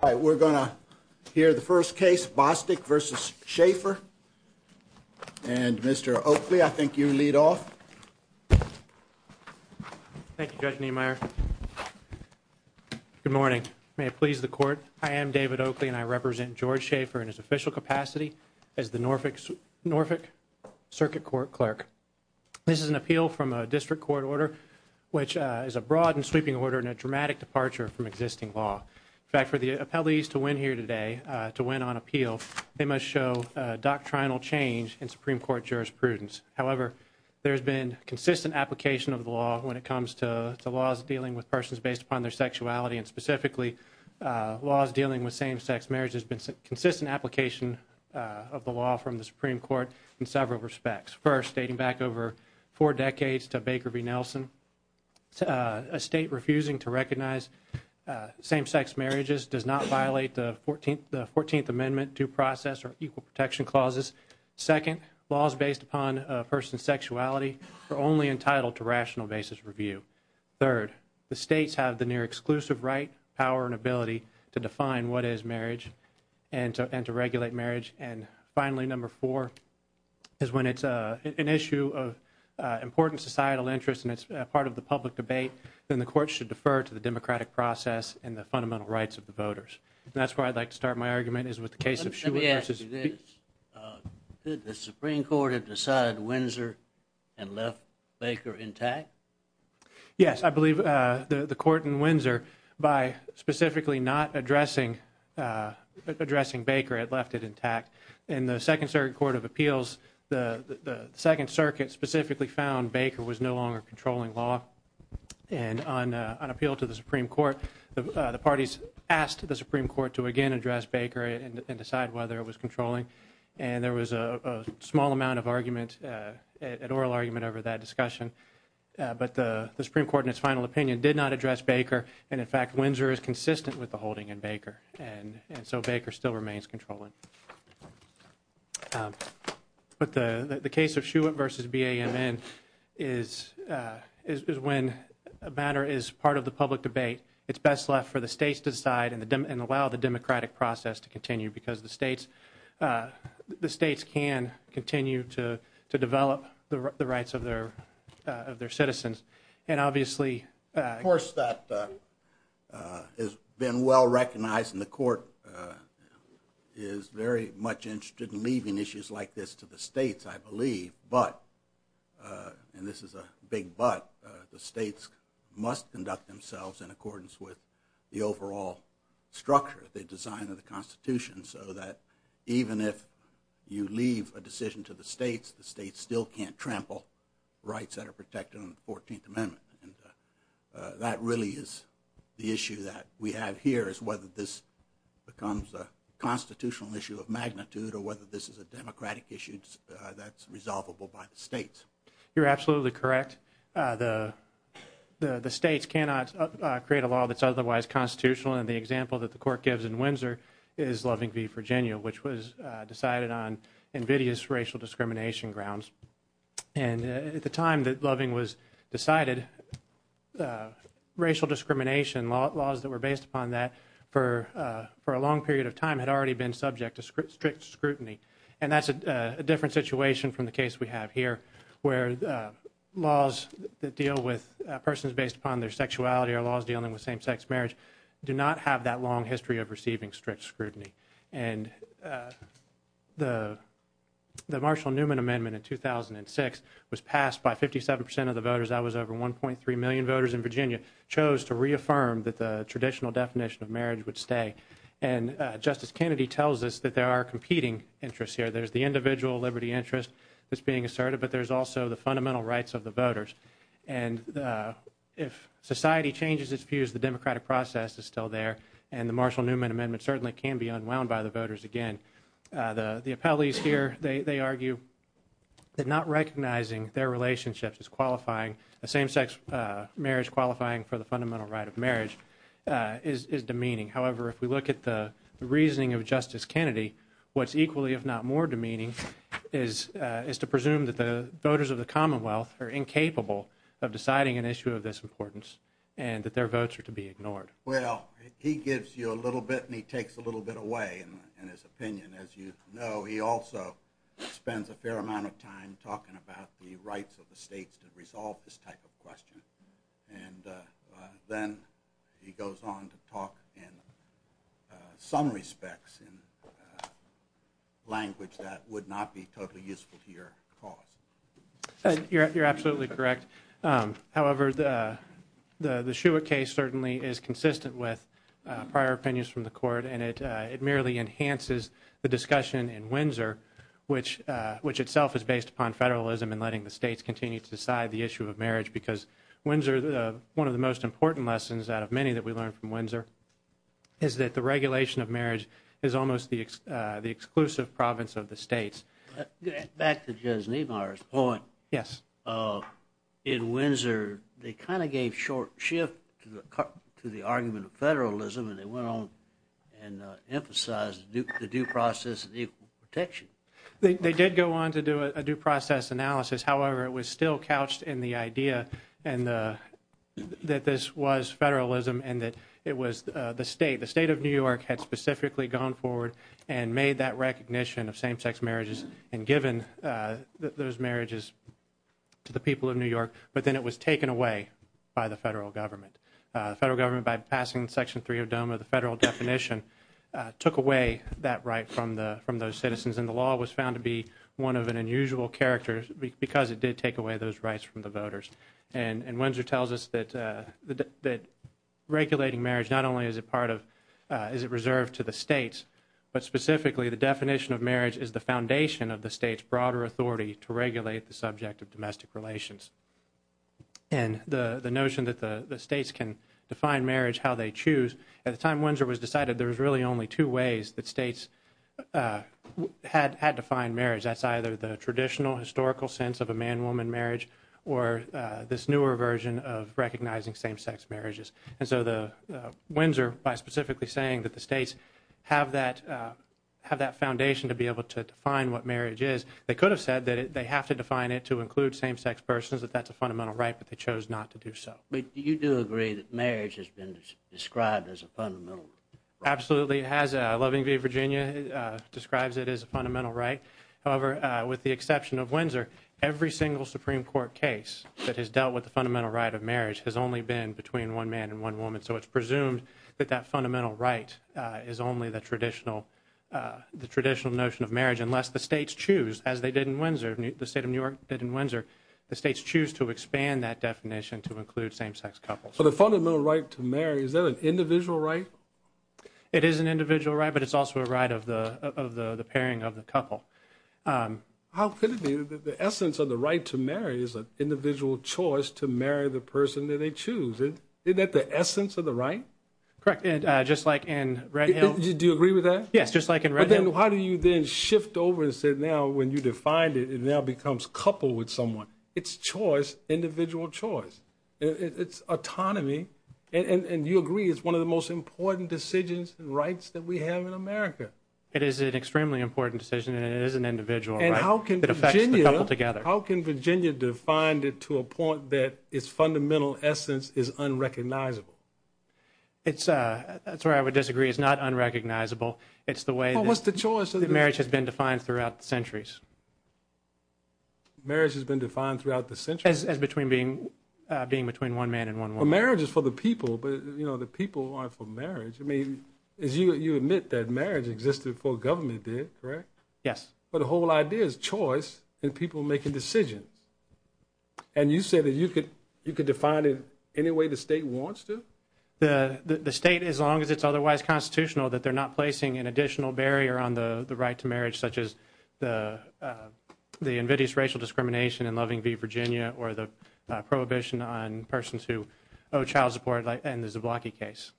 All right, we're going to hear the first case, Bostic v. Schaefer. And Mr. Oakley, I think you lead off. Thank you, Judge Niemeyer. Good morning. May it please the Court, I am David Oakley and I represent George Schaefer in his official capacity as the Norfolk Circuit Court Clerk. This is an appeal from a district court order, which is a broad and sweeping order and a dramatic departure from existing law. In fact, for the appellees to win here today, to win on appeal, they must show doctrinal change in Supreme Court jurisprudence. However, there has been consistent application of the law when it comes to the laws dealing with persons based upon their sexuality, and specifically, laws dealing with same-sex marriage has been consistent application of the law from the Supreme Court in several respects. First, dating back over four decades to Baker v. Nelson, a state refusing to recognize same-sex marriages does not violate the 14th Amendment due process or equal protection clauses. Second, laws based upon a person's sexuality are only entitled to rational basis review. Third, the states have the near-exclusive right, power, and ability to define what is marriage and to regulate marriage. And finally, number four, is when it's an issue of important societal interest and it's part of the public debate, then the court should defer to the democratic process and the fundamental rights of the voters. And that's where I'd like to start my argument is with the case of Schuett v. Let me ask you this, did the Supreme Court have decided Windsor had left Baker intact? Yes, I believe the court in Windsor, by specifically not addressing Baker, had left it intact. In the Second Circuit Court of Appeals, the Second Circuit specifically found Baker was no longer controlling law. And on appeal to the Supreme Court, the parties asked the Supreme Court to again address Baker and decide whether it was controlling. And there was a small amount of argument, an oral argument over that discussion. But the Supreme Court in its final opinion did not address Baker. And in fact, Windsor is consistent with the holding in Baker. And so Baker still remains controlling. But the case of Schuett v. BAMN is when a matter is part of the public debate. It's best left for the states to decide and allow the democratic process to continue. Because the states can continue to develop the rights of their citizens. And obviously... Of course, that has been well recognized. And the court is very much interested in leaving issues like this to the states, I believe. But, and this is a big but, the states must conduct themselves in accordance with the overall structure, the design of the Constitution so that even if you leave a decision to the states, the states still can't trample rights that are protected in the 14th Amendment. And that really is the issue that we have here is whether this becomes a constitutional issue of magnitude or whether this is a democratic issue that's resolvable by the states. You're absolutely correct. The states cannot create a law that's otherwise constitutional. And the example that the court gives in Windsor is Loving v. Virginia, which was decided on invidious racial discrimination grounds. And at the time that Loving was decided, racial discrimination laws that were based upon that for a long period of time had already been subject to strict scrutiny. And that's a different situation from the case we have here, where laws that deal with persons based upon their sexuality or laws dealing with same-sex marriage do not have that long history of receiving strict scrutiny. And the Marshall Newman Amendment in 2006 was passed by 57% of the voters. That was over 1.3 million voters in Virginia chose to reaffirm that the traditional definition of marriage would stay. And Justice Kennedy tells us that there are competing interests here. There's the individual liberty interest that's being asserted, but there's also the fundamental rights of the voters. And if society changes its views, the democratic process is still there, and the Marshall Newman Amendment certainly can be unwound by the voters again. The appellees here, they argue that not recognizing their relationships as qualifying the same-sex marriage qualifying for the fundamental right of marriage is demeaning. However, if we look at the reasoning of Justice Kennedy, what's equally, if not more, demeaning is to presume that the voters of the Commonwealth are incapable of deciding an issue of this importance and that their votes are to be ignored. Well, he gives you a little bit and he takes a little bit away in his opinion. As you know, he also spends a fair amount of time talking about the rights of the states that resolve this type of question. And then he goes on to talk in some respects in language that would not be totally useful to your cause. You're absolutely correct. However, the Shewitt case certainly is consistent with prior opinions from the Court, and it merely enhances the discussion in Windsor, which itself is based upon federalism and letting the states continue to decide the issue of marriage. Because Windsor, one of the most important lessons out of many that we learned from Windsor is that the regulation of marriage is almost the exclusive province of the states. Back to Judge Niemeyer's point. Yes. In Windsor, they kind of gave short shift to the argument of federalism and they went on and emphasized the due process and equal protection. They did go on to do a due process analysis. However, it was still couched in the idea that this was federalism and that it was the state. The state of New York had specifically gone forward and made that recognition of same-sex marriages and given those marriages to the people of New York, but then it was taken away by the federal government. The federal government, by passing Section 3 of DOMA, the federal definition, took away that right from those citizens. And the law was found to be one of an unusual character because it did take away those rights from the voters. Windsor tells us that regulating marriage not only is it reserved to the states, but specifically the definition of marriage is the foundation of the state's broader authority to regulate the subject of domestic relations. And the notion that the states can define marriage how they choose, at the time Windsor was decided, there was really only two ways that states had defined marriage. That's either the traditional historical sense of a man-woman marriage or this newer version of recognizing same-sex marriages. And so Windsor, by specifically saying that the states have that foundation to be able to define what marriage is, they could have said that they have to define it to include same-sex persons, that that's a fundamental right, but they chose not to do so. Do you agree that marriage has been described as a fundamental right? Absolutely. Loving V. Virginia describes it as a fundamental right. However, with the exception of Windsor, every single Supreme Court case that has dealt with the fundamental right of marriage has only been between one man and one woman. So it's presumed that that fundamental right is only the traditional notion of marriage unless the states choose, as they did in Windsor, the state of New York did in Windsor, the states choose to expand that definition to include same-sex couples. So the fundamental right to marry, is that an individual right? It is an individual right, but it's also a right of the pairing of the couple. How could it be that the essence of the right to marry is an individual choice to marry the person that they choose? Isn't that the essence of the right? Correct. Just like in Red Hill. Do you agree with that? Yes, just like in Red Hill. But then how do you then shift over and say, now when you defined it, it now becomes coupled with someone? It's choice, individual choice. It's autonomy. And you agree, it's one of the most important decisions and rights that we have in America. It is an extremely important decision and it is an individual right. And how can Virginia define it to a point that its fundamental essence is unrecognizable? That's where I would disagree. It's not unrecognizable. It's the way that marriage has been defined throughout the centuries. Marriage has been defined throughout the centuries? As being between one man and one woman. For marriage, it's for the people, but the people aren't for marriage. I mean, you admit that marriage existed before government did, correct? Yes. But the whole idea is choice and people making decisions. And you say that you could define it any way the state wants to? The state, as long as it's otherwise constitutional, that they're not placing an additional barrier on the right to marriage, such as the invidious racial discrimination in Loving v. Virginia or the prohibition on persons who owe child support in the Zablocki case.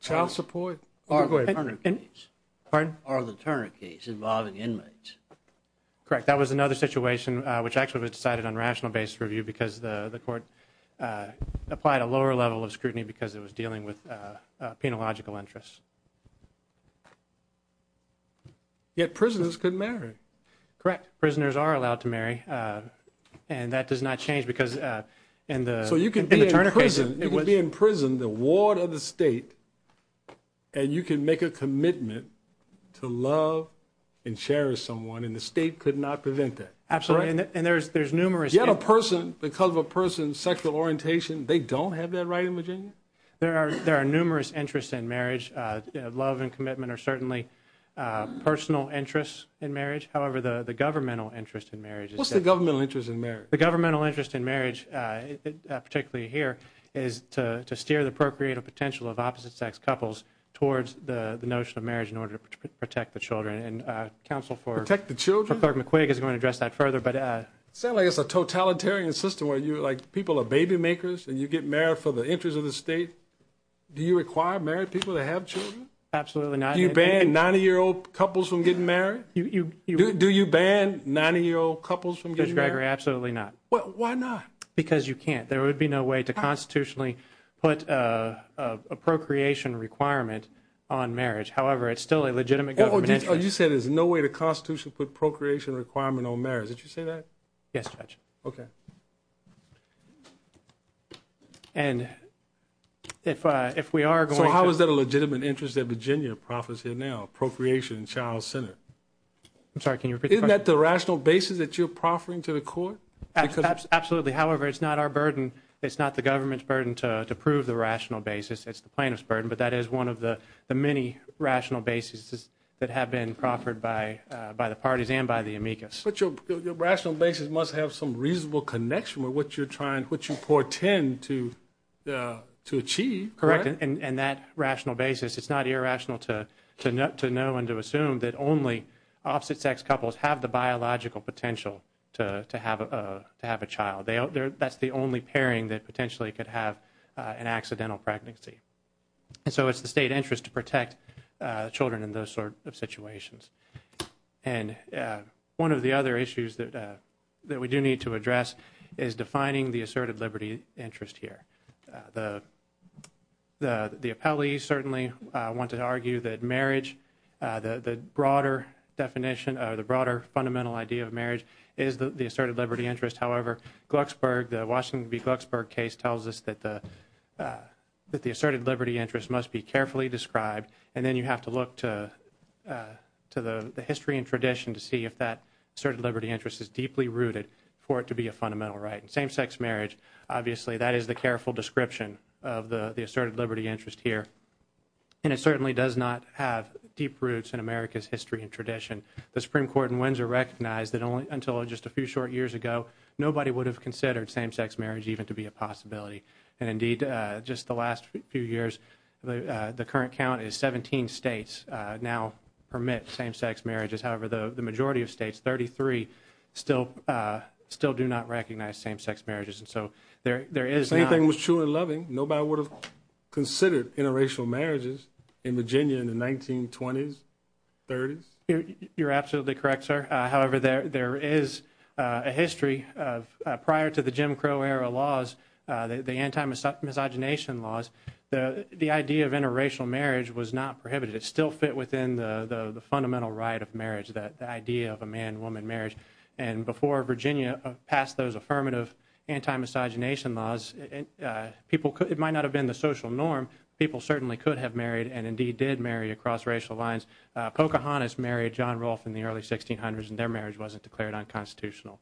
Child support? Or the Turner case. Pardon? Or the Turner case involving inmates. Correct. That was another situation which actually was decided on rational basis review because the court applied a lower level of scrutiny because it was dealing with penological interests. Yet prisoners could marry. Correct. Prisoners are allowed to marry. And that does not change because in the Turner case... So you could be in prison, the ward of the state, and you can make a commitment to love and cherish someone, and the state could not prevent that. Absolutely. And there's numerous... Yet a person, because of a person's sexual orientation, they don't have that right in Virginia? There are numerous interests in marriage. Love and commitment are certainly personal interests in marriage. However, the governmental interest in marriage is... What is the governmental interest in marriage? The governmental interest in marriage, particularly here, is to steer the procreative potential of opposite-sex couples towards the notion of marriage in order to protect the children. And counsel for... Protect the children? ...Clerk McQuig is going to address that further, but... Sounds like it's a totalitarian system where people are baby makers and you get married for the interest of the state. Do you require married people to have children? Absolutely not. Do you ban 90-year-old couples from getting married? Do you ban 90-year-old couples from getting married? Judge Greger, absolutely not. Why not? Because you can't. There would be no way to constitutionally put a procreation requirement on marriage. However, it's still a legitimate governmental interest. You said there's no way the Constitution put a procreation requirement on marriage. Did you say that? Yes, Judge. Okay. And if we are going to... So how is that a legitimate interest that Virginia profits in now, procreation and child center? I'm sorry, can you repeat the question? Isn't that the rational basis that you're proffering to the court? Absolutely. However, it's not our burden. It's not the government's burden to prove the rational basis. It's the plaintiff's burden, but that is one of the many rational basis that have been proffered by the parties and by the amicus. But your rational basis must have some reasonable connection with what you portend to achieve, correct? Correct. And that rational basis, it's not irrational to know and to assume that only opposite sex couples have the biological potential to have a child. That's the only pairing that potentially could have an accidental pregnancy. So it's the state interest to protect children in those sort of situations. And one of the other issues that we do need to address is defining the asserted liberty interest here. The appellees certainly want to argue that marriage, the broader definition or the broader fundamental idea of marriage is the asserted liberty interest. However, Glucksberg, the Washington v. Glucksberg case tells us that the asserted liberty interest must be carefully described and then you have to look to the history and tradition to see if that asserted liberty interest is deeply rooted for it to be a fundamental right. And same-sex marriage, obviously, that is the careful description of the asserted liberty interest here. And it certainly does not have deep roots in America's history and tradition. The Supreme Court in Windsor recognized that only until just a few short years ago, nobody would have considered same-sex marriage even to be a possibility. And indeed, just the last few years, the current count is 17 states now permit same-sex marriages. However, the majority of states, 33, still do not recognize same-sex marriages. And so there is not... If anything was true and loving, nobody would have considered interracial marriages in Virginia in the 1920s, 30s? You're absolutely correct, sir. However, there is a history of prior to the Jim Crow era laws, the anti-miscegenation laws, the idea of interracial marriage was not prohibited. It still fit within the fundamental right of marriage, the idea of a man-woman marriage. And before Virginia passed those affirmative anti-miscegenation laws, it might not have been the social norm, people certainly could have married and indeed did marry across racial lines. Pocahontas married John Rolfe in the early 1600s and their marriage wasn't declared unconstitutional.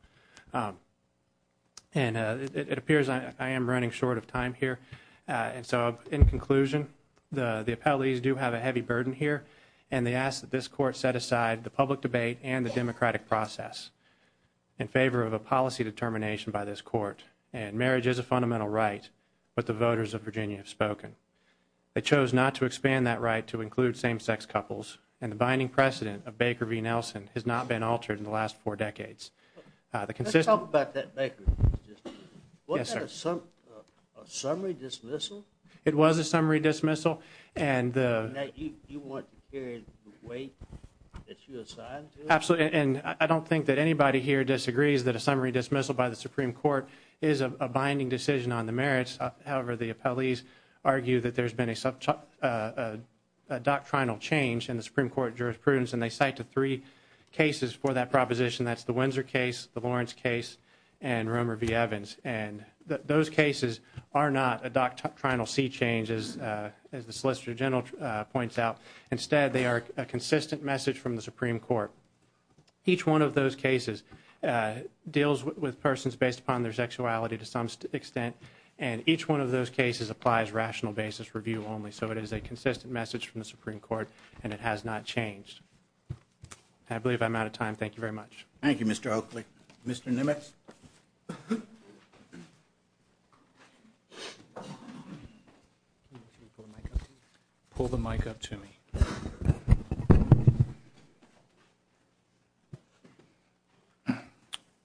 And it appears I am running short of time here. And so in conclusion, the appellees do have a heavy burden here. And they ask that this court set aside the public debate and the democratic process in favor of a policy determination by this court. And marriage is a fundamental right. But the voters of Virginia have spoken. They chose not to expand that right to include same-sex couples. And the binding precedent of Baker v. Nelson has not been altered in the last four decades. Let's talk about that Baker v. Nelson. Wasn't that a summary dismissal? It was a summary dismissal. And that you want to carry it away as you decide? Absolutely. And I don't think that anybody here disagrees that a summary dismissal by the Supreme Court is a binding decision on the merits. However, the appellees argue that there's been a doctrinal change in the Supreme Court jurisprudence. And they cite the three cases for that proposition. That's the Windsor case, the Lawrence case, and Romer v. Evans. And those cases are not a doctrinal sea change, as the Solicitor General points out. Instead, they are a consistent message from the Supreme Court. Each one of those cases deals with persons based upon their sexuality. To some extent. And each one of those cases applies rational basis review only. So it is a consistent message from the Supreme Court. And it has not changed. I believe I'm out of time. Thank you very much. Thank you, Mr. Oakley. Mr. Nimitz? Pull the mic up to me. Good morning.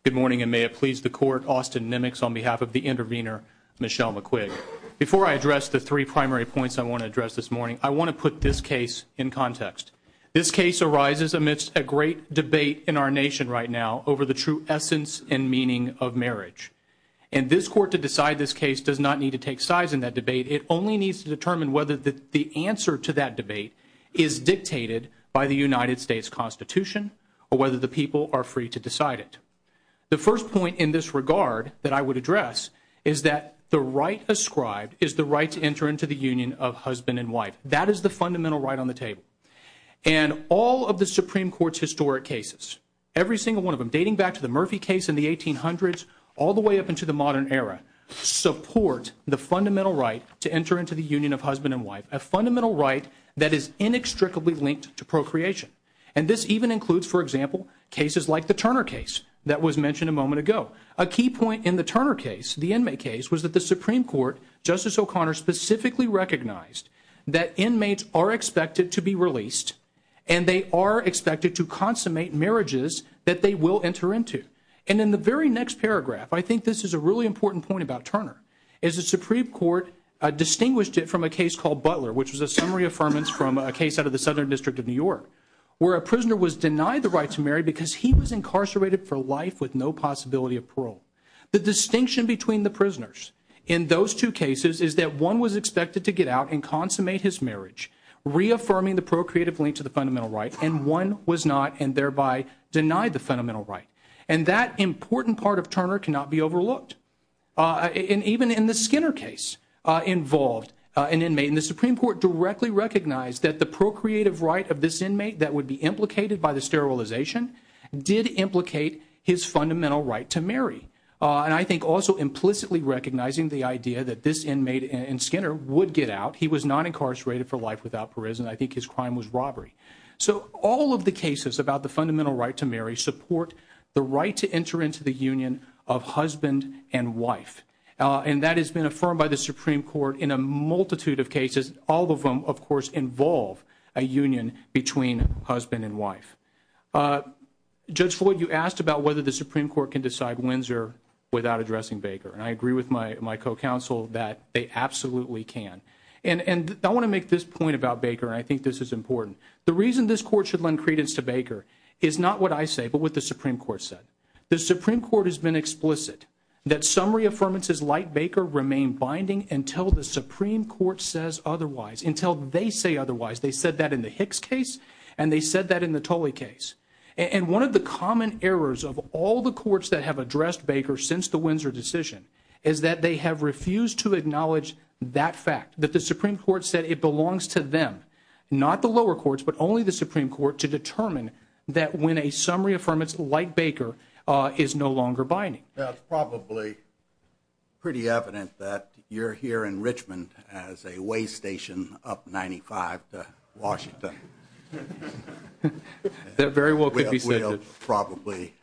Good morning, and may it please the Court, Austin Nimitz, on behalf of the intervener, Michelle McQuig. Before I address the three primary points I want to address this morning, I want to put this case in context. This case arises amidst a great debate in our nation right now over the true essence and meaning of marriage. And this Court to decide this case does not need to take sides in that debate. It only needs to determine whether the answer to that debate is dictated by the United States Constitution or whether the people are free to decide it. The first point in this regard that I would address is that the right ascribed is the right to enter into the union of husband and wife. That is the fundamental right on the table. And all of the Supreme Court's historic cases, every single one of them, dating back to the Murphy case in the 1800s all the way up into the modern era, support the fundamental right to enter into the union of husband and wife, a fundamental right that is inextricably linked to procreation. And this even includes, for example, the case of the Turner case, which is a case that I mentioned a little bit ago. A key point in the Turner case, the inmate case, was that the Supreme Court, Justice O'Connor specifically recognized that inmates are expected to be released and they are expected to consummate marriages that they will enter into. And in the very next paragraph, I think this is a really important point about Turner, is the Supreme Court distinguished it from a case called Butler, which was a summary affirmance from a case out of the Southern District of New York where a prisoner was denied the right to marry because he was incarcerated for life with no possibility of parole. The distinction between the prisoners in those two cases is that one was expected to get out and consummate his marriage, reaffirming the procreative link to the fundamental right, and one was not and thereby denied the fundamental right. And that important part of Turner cannot be overlooked. And even in the Skinner case, he recognized that the procreative right of this inmate that would be implicated by the sterilization did implicate his fundamental right to marry. And I think also implicitly recognizing the idea that this inmate in Skinner would get out. He was not incarcerated for life without prison. I think his crime was robbery. So all of the cases about the fundamental right to marry support the right to enter into the union of husband and wife. And that has been affirmed by the Supreme Court in a multitude of cases, to involve a union between husband and wife. Judge Floyd, you asked about whether the Supreme Court can decide Windsor without addressing Baker. And I agree with my co-counsel that they absolutely can. And I want to make this point about Baker, and I think this is important. The reason this court should lend credence to Baker is not what I say, but what the Supreme Court said. The Supreme Court has been explicit that summary affirmances like Baker remain binding until the Supreme Court says otherwise, until they say otherwise. They said that in the Hicks case, and they said that in the Tolley case. And one of the common errors of all the courts that have addressed Baker since the Windsor decision is that they have refused to acknowledge that fact, that the Supreme Court said it belongs to them, not the lower courts, but only the Supreme Court, to determine that when a summary affirmance like Baker is no longer binding. That's probably pretty evident that you're here in Richmond as a weigh station up 95 to Washington. That very well could be stated. We'll probably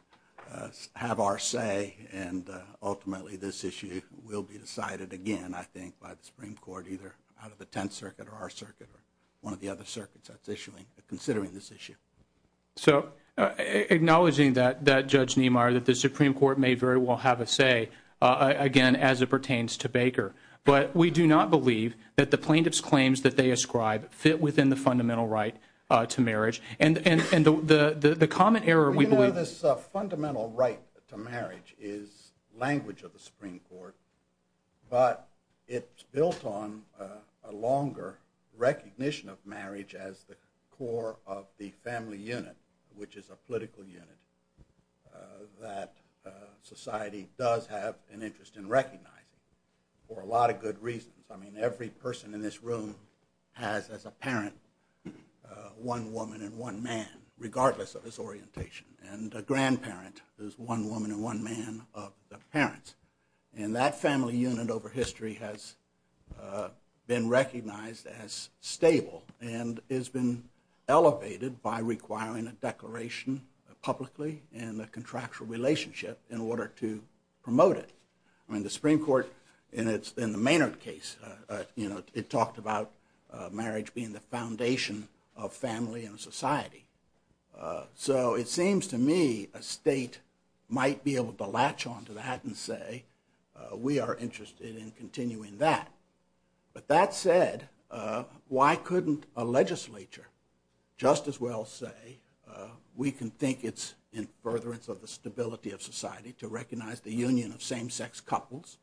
have our say, and ultimately this issue will be decided again, I think, by the Supreme Court either out of the Tenth Circuit or our circuit or one of the other circuits that's issuing considering this issue. So acknowledging that, Judge Niemeyer, that the Supreme Court may very well have a say, again, as it pertains to Baker. But we do not believe that the plaintiff's claims that they ascribe fit within the fundamental right to marriage. And the common error, we believe... We know this fundamental right to marriage is language of the Supreme Court, but it's built on a longer recognition of marriage as the core of the family unit, which is a political unit that society does have an interest in recognizing for a lot of good reasons. I mean, every person in this room has as a parent one woman and one man, regardless of his orientation. And a grandparent is one woman and one man of the parents. And that family unit over history has been recognized as stable and has been elevated by requiring a declaration publicly and a contractual relationship in order to promote it. I mean, the Supreme Court in the Maynard case, it talked about marriage being the foundation of family and society. So it seems to me a state might be able to latch onto that and say, we are interested in continuing that. But that said, why couldn't a legislature just as well say, we can think it's in furtherance of the stability of society to recognize the union of same-sex couples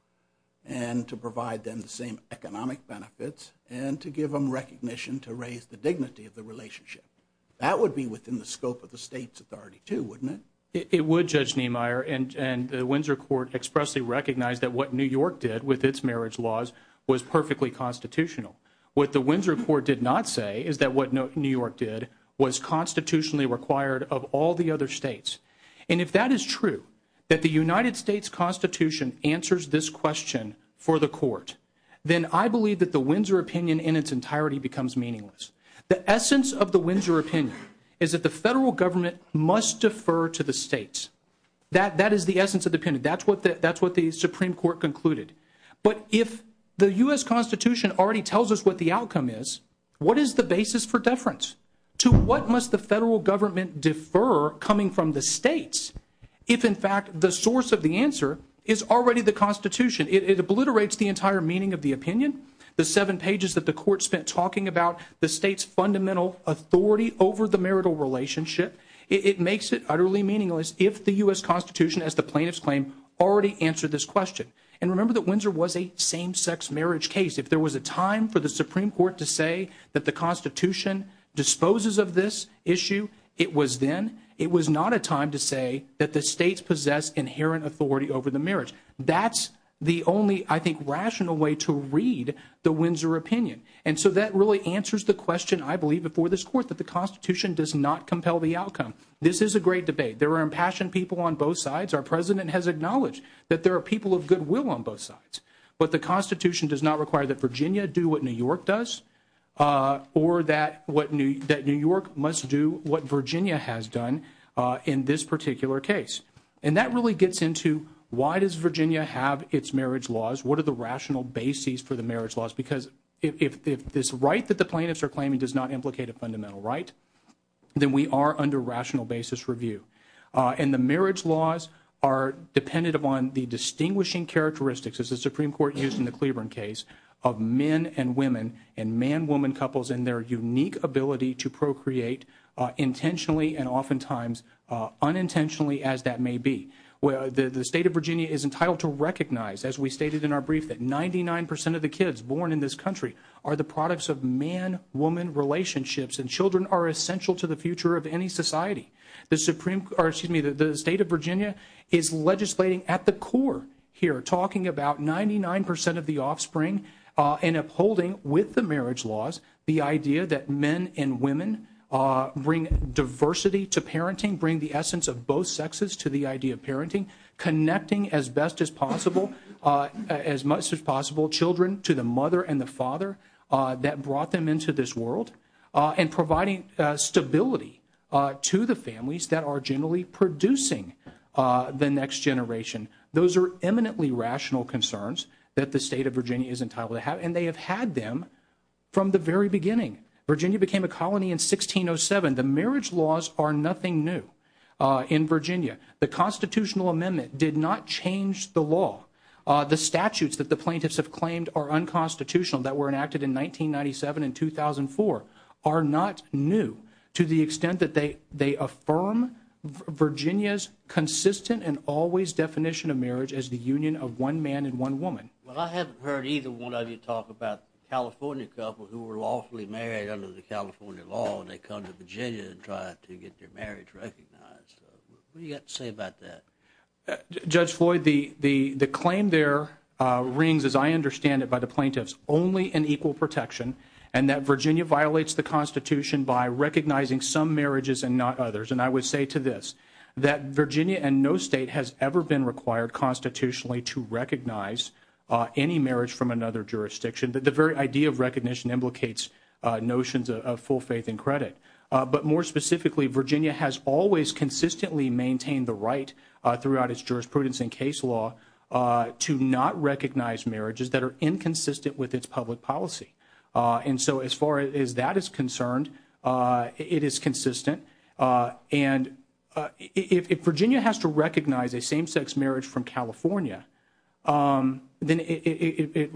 and to provide them the same access to economic benefits and to give them recognition to raise the dignity of the relationship. That would be within the scope of the state's authority, too, wouldn't it? It would, Judge Niemeyer. And the Windsor Court expressly recognized that what New York did with its marriage laws was perfectly constitutional. What the Windsor Court did not say is that what New York did was constitutionally required of all the other states. And if that is true, I believe that the Windsor opinion in its entirety becomes meaningless. The essence of the Windsor opinion is that the federal government must defer to the states. That is the essence of the opinion. That's what the Supreme Court concluded. But if the U.S. Constitution already tells us what the outcome is, what is the basis for deference? To what must the federal government defer coming from the states if, in fact, the source of the answer is already the Constitution? The seven pages that the Court spent talking about the state's fundamental authority over the marital relationship? It makes it utterly meaningless if the U.S. Constitution, as the plaintiffs claim, already answered this question. And remember that Windsor was a same-sex marriage case. If there was a time for the Supreme Court to say that the Constitution disposes of this issue, it was then. It was not a time to say that the states possess inherent authority over the marriage. That's the only, I think, rational way to read the Windsor opinion. And so that really answers the question, I believe, before this Court, that the Constitution does not compel the outcome. This is a great debate. There are impassioned people on both sides. Our President has acknowledged that there are people of goodwill on both sides. But the Constitution does not require that Virginia do what New York does or that New York must do what Virginia has done in this particular case. And that really gets into why does Virginia have its marriage laws? What are the rational bases for the marriage laws? Because if this right that the plaintiffs are claiming does not implicate a fundamental right, then we are under rational basis review. And the marriage laws are dependent upon the distinguishing characteristics as the Supreme Court used in the Cleburne case of men and women and man-woman couples and their unique ability to procreate intentionally and oftentimes unintentionally as that may be. The State of Virginia is entitled to recognize as we stated in our brief that 99% of the kids born in this country are the products of man-woman relationships and children are essential to the future of any society. The State of Virginia is legislating at the core here talking about 99% of the offspring and upholding with the marriage laws the idea that men and women bring diversity to parenting, bring the essence of both sexes to the idea of parenting, connecting as best as possible as much as possible children to the mother and the father that brought them into this world and providing stability to the families that are generally producing the next generation. Those are eminently rational concerns that the State of Virginia is entitled to have and they have had them from the very beginning. Virginia became a colony in 1607. The marriage laws are nothing new in Virginia. The constitutional amendment did not change the law. The statutes that the plaintiffs have claimed are unconstitutional that were enacted in 1997 and 2004 are not new to the extent that they affirm Virginia's consistent and always definition of marriage as the union of one man and one woman. I haven't heard either one of you talk about the California couple who were lawfully married under the California law and they come to Virginia and try to get their marriage recognized. What do you have to say about that? Judge Floyd, the claim there rings as I understand it by the plaintiffs only in equal protection and that Virginia violates the Constitution by recognizing some marriages and not others and I would say to this that Virginia and no state has ever been required constitutionally to recognize any marriage from another jurisdiction that the very idea of recognition implicates notions of full faith and credit but more specifically Virginia has always consistently maintained the right throughout its jurisprudence and case law to not recognize marriages that are inconsistent with its public policy and so as far as that is concerned it is consistent and if Virginia has to recognize a same sex marriage from California then it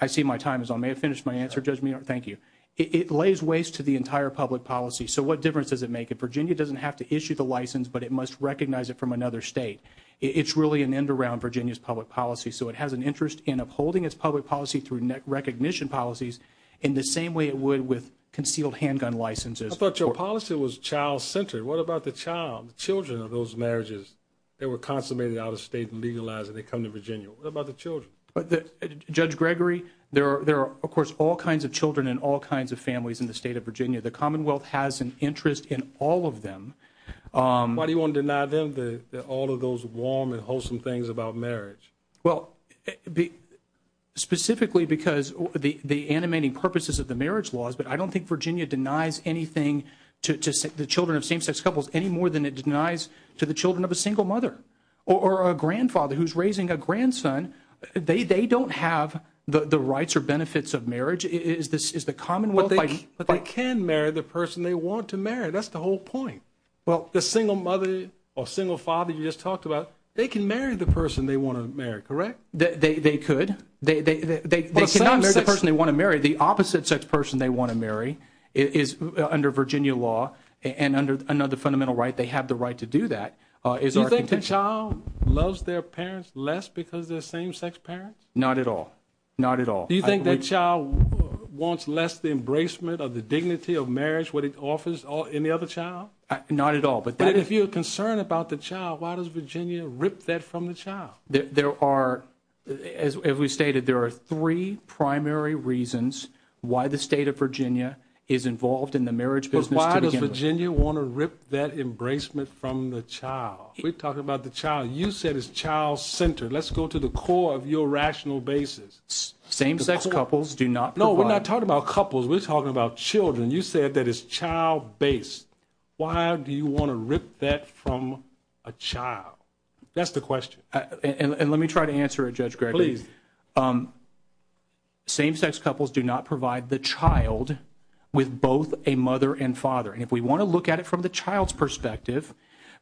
I see my time is on may I finish my answer Judge Meehan? Thank you. It lays waste to the entire public policy so what difference does it make? If Virginia doesn't have to issue the license but it must recognize it from another state it's really an end around Virginia's public policy so it has an interest in upholding its public policy through recognition policies in the same way it would with concealed handgun licenses. I thought your policy was child centered what about the child the children of those marriages they were consummated out of state and legalized and then they come to Virginia what about the children? Judge Gregory there are of course all kinds of children and all kinds of families in the state of Virginia the commonwealth has an interest in all of them Why do you want to deny them all of those warm and wholesome things about marriage? Well specifically because the animating purposes of the marriage laws but I don't think Virginia denies anything to the children of same sex couples any more than it denies to the children of a single mother or a grandfather who is raising a grandson they don't have the rights or benefits of marriage is the commonwealth they can marry the person they want to marry that's the whole point the single mother or single father you just talked about they can marry the person they want to marry correct? They could they cannot marry the person they want to marry the opposite sex person they want to marry is under Virginia law and under another fundamental right they have the right to do that do you think the child loves their parents less because they're same sex parents? Not at all not at all do you think that child wants less the embracement of the dignity of marriage what it offers in the other child? Not at all but if you're concerned about the child why does Virginia rip that from the child? There are as we stated there are three primary reasons why the state of Virginia is involved in the marriage business why does Virginia want to rip that embracement from the child? We're talking about the child you said it's child centered let's go to the core of your rational basis same sex couples do not provide no we're not talking about couples we're talking about children you said that it's child based why do you want to rip that from a child? That's the question and let me try to answer it Judge Gregory same sex couples do not provide the child with both a mother and father and if we want to look at it from the child's perspective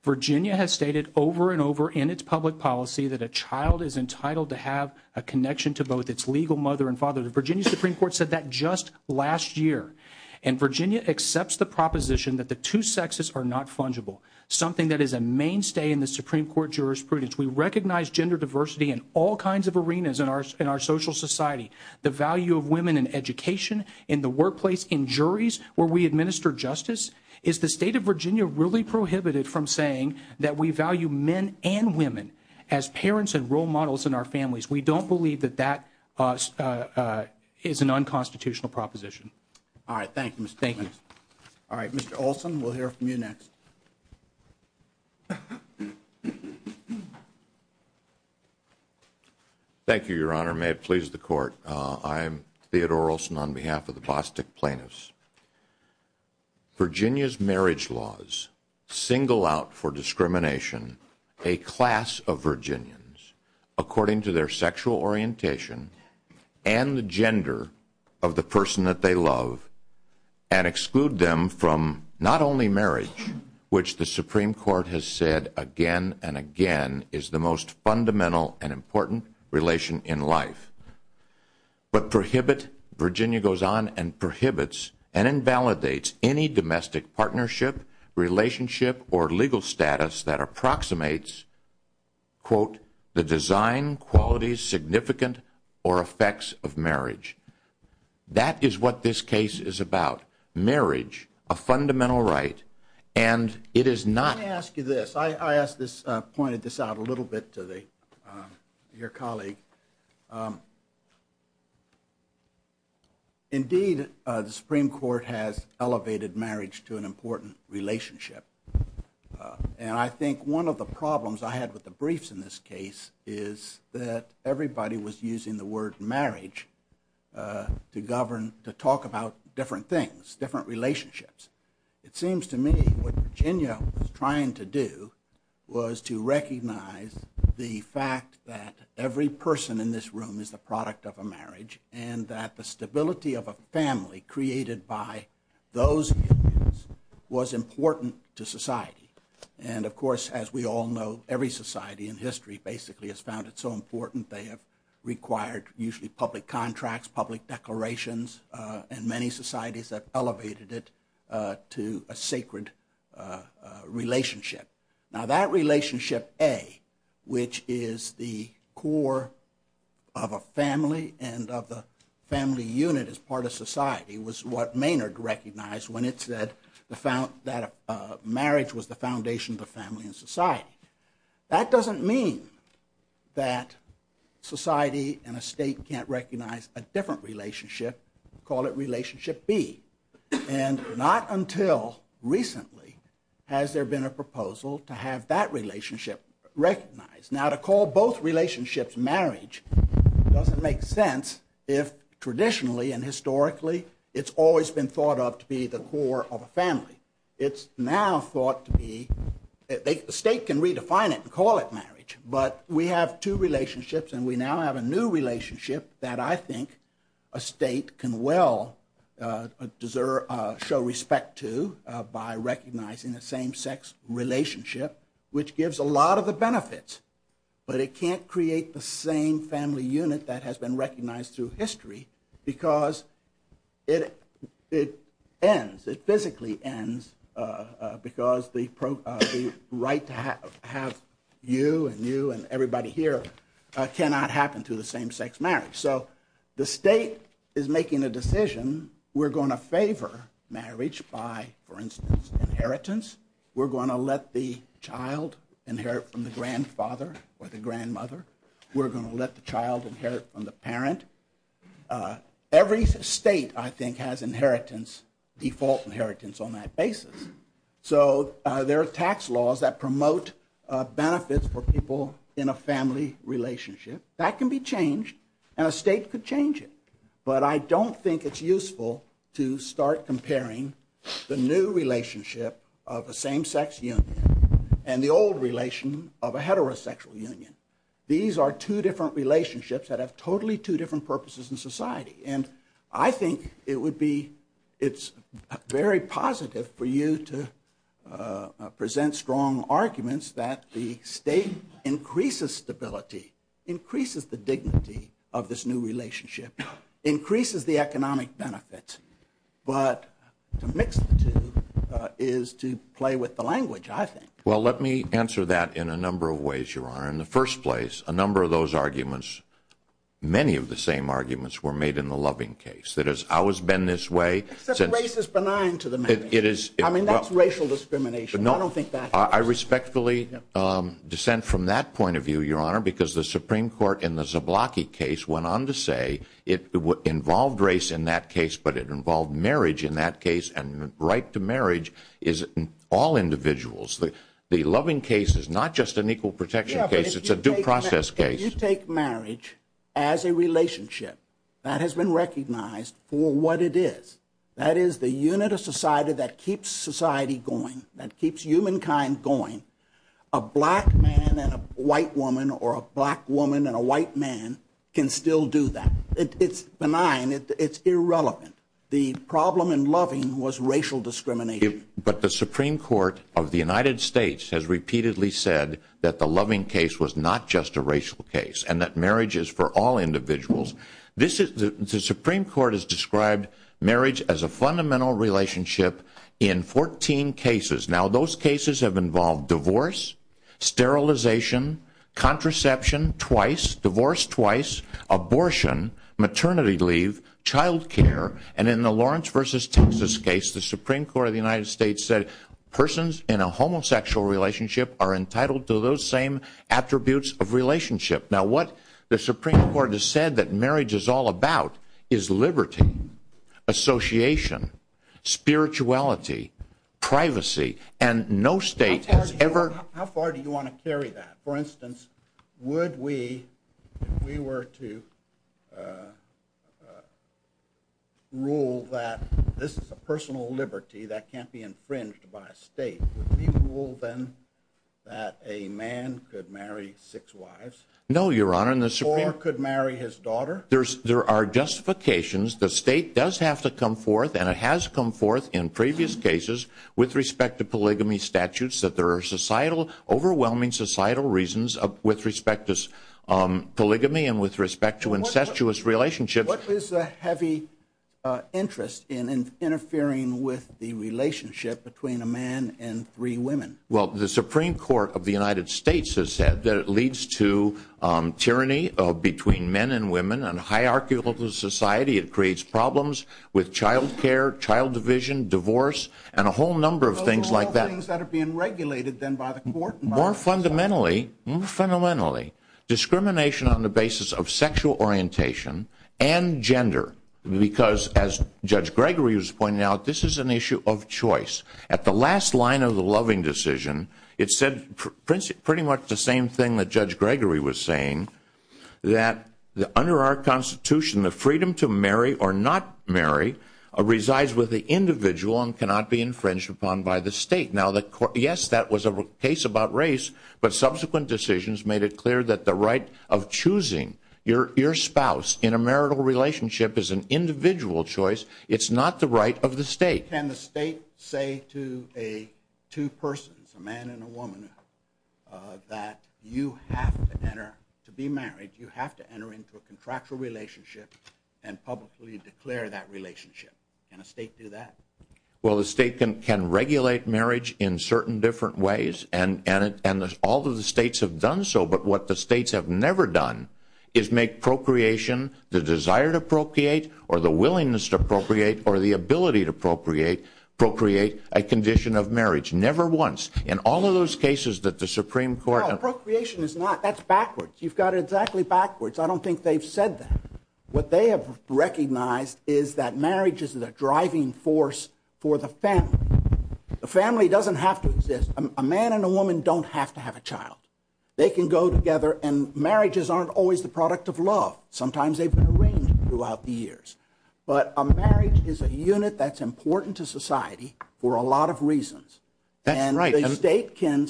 Virginia has stated over and over in its public policy that a child is entitled to have a connection to both its legal mother and father the Virginia Supreme Court said that just last year and Virginia accepts the proposition that the two sexes are not fungible something that is a mainstay in the Supreme Court jurisprudence we recognize gender diversity in all kinds of arenas in our social society the value of women in education in the workplace in juries where we administer justice is the state of Virginia really prohibited from saying that we value men and women as parents and role models in our families we don't believe that that is an unconstitutional proposition all right thank you Mr. Payne all right Mr. Olson we'll hear from you next thank you your honor may it please the court I'm Theodore Olson on behalf of the Bostock Plaintiffs Virginia's marriage laws single out for discrimination a class of Virginians according to their from not only marriage which the Supreme Court does not recognize but also does not recognize and does not recognize the gender of the person that they love which the Supreme Court has said again and again is the most fundamental and important relation in life but prohibit Virginia goes on and prohibits and invalidates any domestic partnership relationship or legal status that approximates quote the design qualities significant or effects of marriage that is what this case is about marriage a fundamental right and it is not let me ask you this I asked this pointed this out a little bit to the your colleague indeed the Supreme Court has elevated marriage to an important relationship and I think one of the problems I had with the briefs in this case is that everybody was using the word marriage to govern to talk about different things different relationships it seems to me what Virginia was trying to do was to recognize the fact that every person in this room is the product of a marriage and that the stability of a family created by those was important to society and of course as we all know every society in history basically has found it so important they have required usually public contracts public declarations and many societies that elevated it to a sacred relationship now that relationship A which is the core of a family and of a family unit as part of society was what Maynard recognized when it said that marriage was the foundation of the family and society that doesn't mean that society and a state can't recognize a different relationship call it relationship B and not until recently has there been a proposal to have that relationship recognized now to call both relationships marriage doesn't make sense if traditionally and historically it's always been thought of to be the core of a family it's now thought to be the state can redefine it and call it marriage but we have two relationships and we now have a new relationship that I think a state can well deserve show respect to by recognizing the same sex relationship which gives a lot of the benefits but it can't create the same family unit that has been recognized through history because it ends it physically ends because the right to have you and you and everybody here cannot happen through the same sex marriage so the state is making a decision we're going to favor marriage by for instance inheritance we're going to let the child inherit from the grandfather or the grandmother we're going to let the child inherit from the parent every state I think has inheritance default inheritance on that basis so there are tax laws that promote benefits for people in a family relationship that can be changed and a state could change it but I don't think it's useful to start comparing the new relationship of a same sex union and the old relation of a heterosexual union these are two different relationships that have totally two different purposes in society and I think it would be it's very positive for you to present strong arguments in the sense that the state increases stability increases the dignity of this new relationship increases the economic benefits but the mix is to play with the language I think well let me answer that in a number of ways your honor in the first place a number of those arguments many of the same arguments were made in the first place but I would strongly dissent from that point of view your honor because the Supreme Court in the Zablocki case went on to say it involved race in that case but it involved marriage in that case and right to marriage is all individuals the loving case is not just an equal protection case it's a due process case and that marriage is for all individuals the Supreme Court has described marriage as a fundamental relationship in 14 cases now those cases have involved divorce sterilization contraception twice divorce twice abortion maternity leave child care and in the Lawrence versus Texas case the Supreme Court of the United States said persons in a homosexual relationship are not eligible for marriage now what the Supreme Court has said that marriage is all about is liberty association spirituality privacy and no state has ever how far do you want to carry that for instance would we if we were to rule that this is a personal liberty that can't be infringed by a state would you rule then that a man could marry six wives no your honor or could marry his daughter there are justifications the state does have to come forth and it has come forth in previous cases with respect to polygamy statutes that there are overwhelming societal reasons with respect to polygamy and with respect to incestuous relationships what is the heavy interest in interfering with the relationship between a man and three women well the supreme court of the united states has said that it leads to tyranny between men and women and hierarchical society it creates problems with child care child division divorce and a whole number of things like that more fundamentally discrimination on the basis of sexual orientation and gender because as judge gregory was pointing out this is an issue of choice at the last line of the loving decision it said pretty much the same thing that judge gregory was saying that under our constitution the freedom to marry or not marry resides with the individual and cannot be infringed upon by the state yes that was a case about race but subsequent decisions made it clear that the right of choosing your spouse in a marital relationship is an individual choice it's not the right of the state can the state say to a two persons a man and a woman that you have to enter to be married you have to enter into a contractual relationship and publicly declare that relationship can the state do that well the state can regulate marriage in certain different ways and all of the states have done so but what the states have done is they have allowed the procreation the desire to procreate or the willingness to procreate or the ability to procreate a condition of marriage never once in all of those cases that the supreme court procreation is not that's backwards you've got exactly backwards I don't think they've said that what they have recognized is that marriage is the driving force for the procreation sometimes they have been arranged throughout the years but a marriage is a unit that's important to society for a lot of reasons and the state can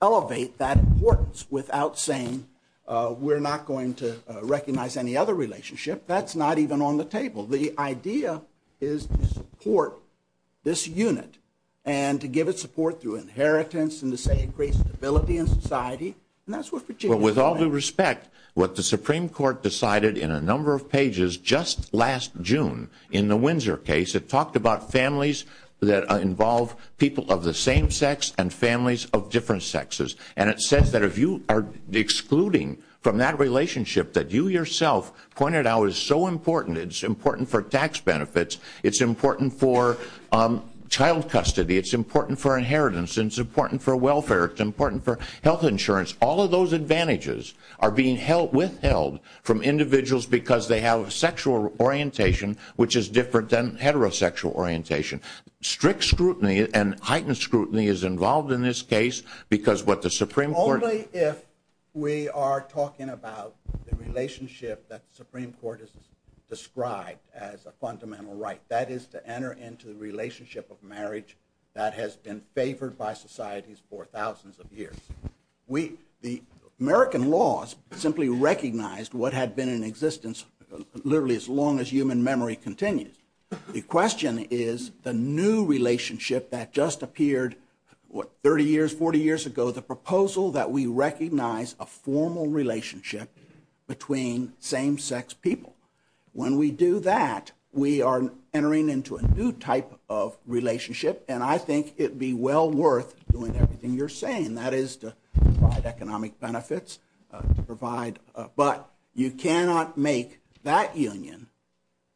elevate that importance without saying we're not going to recognize any other relationship that's not even on the table the idea is to support this unit and to give it support through inheritance and to say it creates stability in society with all due respect what the supreme court decided in a number of pages just last June in the Windsor case it talked about families that involve people of the same sex and families of different sexes and it says that if you are excluding from that relationship that you yourself pointed out is so important it's important for tax benefits it's important for child custody it's important for inheritance it's important for welfare it's important for health insurance all of those advantages are being withheld from individuals because they have sexual orientation which is different than heterosexual orientation strict scrutiny and heightened scrutiny is involved in this case because what the supreme court only if we are talking about the relationship that the supreme court has described as a fundamental right that is to enter into the relationship of marriage that has been favored by society for thousands of years the American laws simply recognized what had been in existence literally as long as human memory continues the question is the new relationship that just appeared what 30 years 40 years ago the proposal that we recognize a formal relationship between same-sex people when we do that we are entering into a new type of relationship and I think it would be well worth doing everything you are saying that is to provide economic benefits but you cannot make that union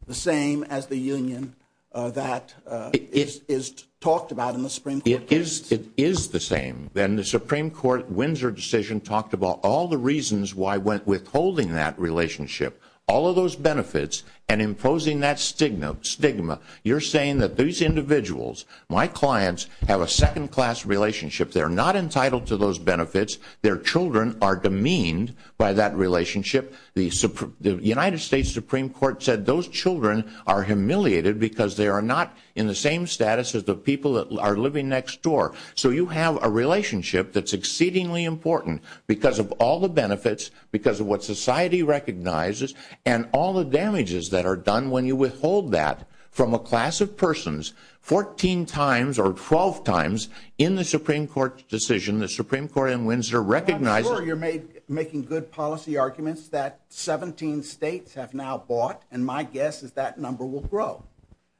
the same as the union that is talked about in the supreme court it is the same then the supreme court in the Windsor decision talked about all the reasons why withholding that relationship all of those benefits and imposing that stigma you are saying that these individuals my clients have a second class relationship they are not entitled to those benefits their children are demeaned by that relationship the united states supreme court said those children are humiliated because they are not in the same status as the people that are living next door so you have a relationship that is exceedingly important because of all the benefits because of what society recognizes and all the damages that are done when you withhold that from a class of persons 14 times or 12 times in the supreme court decision the supreme court in Windsor recognized you are making good policy arguments that 17 states have now bought and my guess is that number will grow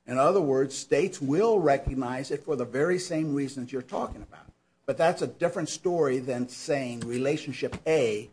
in other words states will recognize it for the very same reasons you are talking about but that is a different story than saying relationship A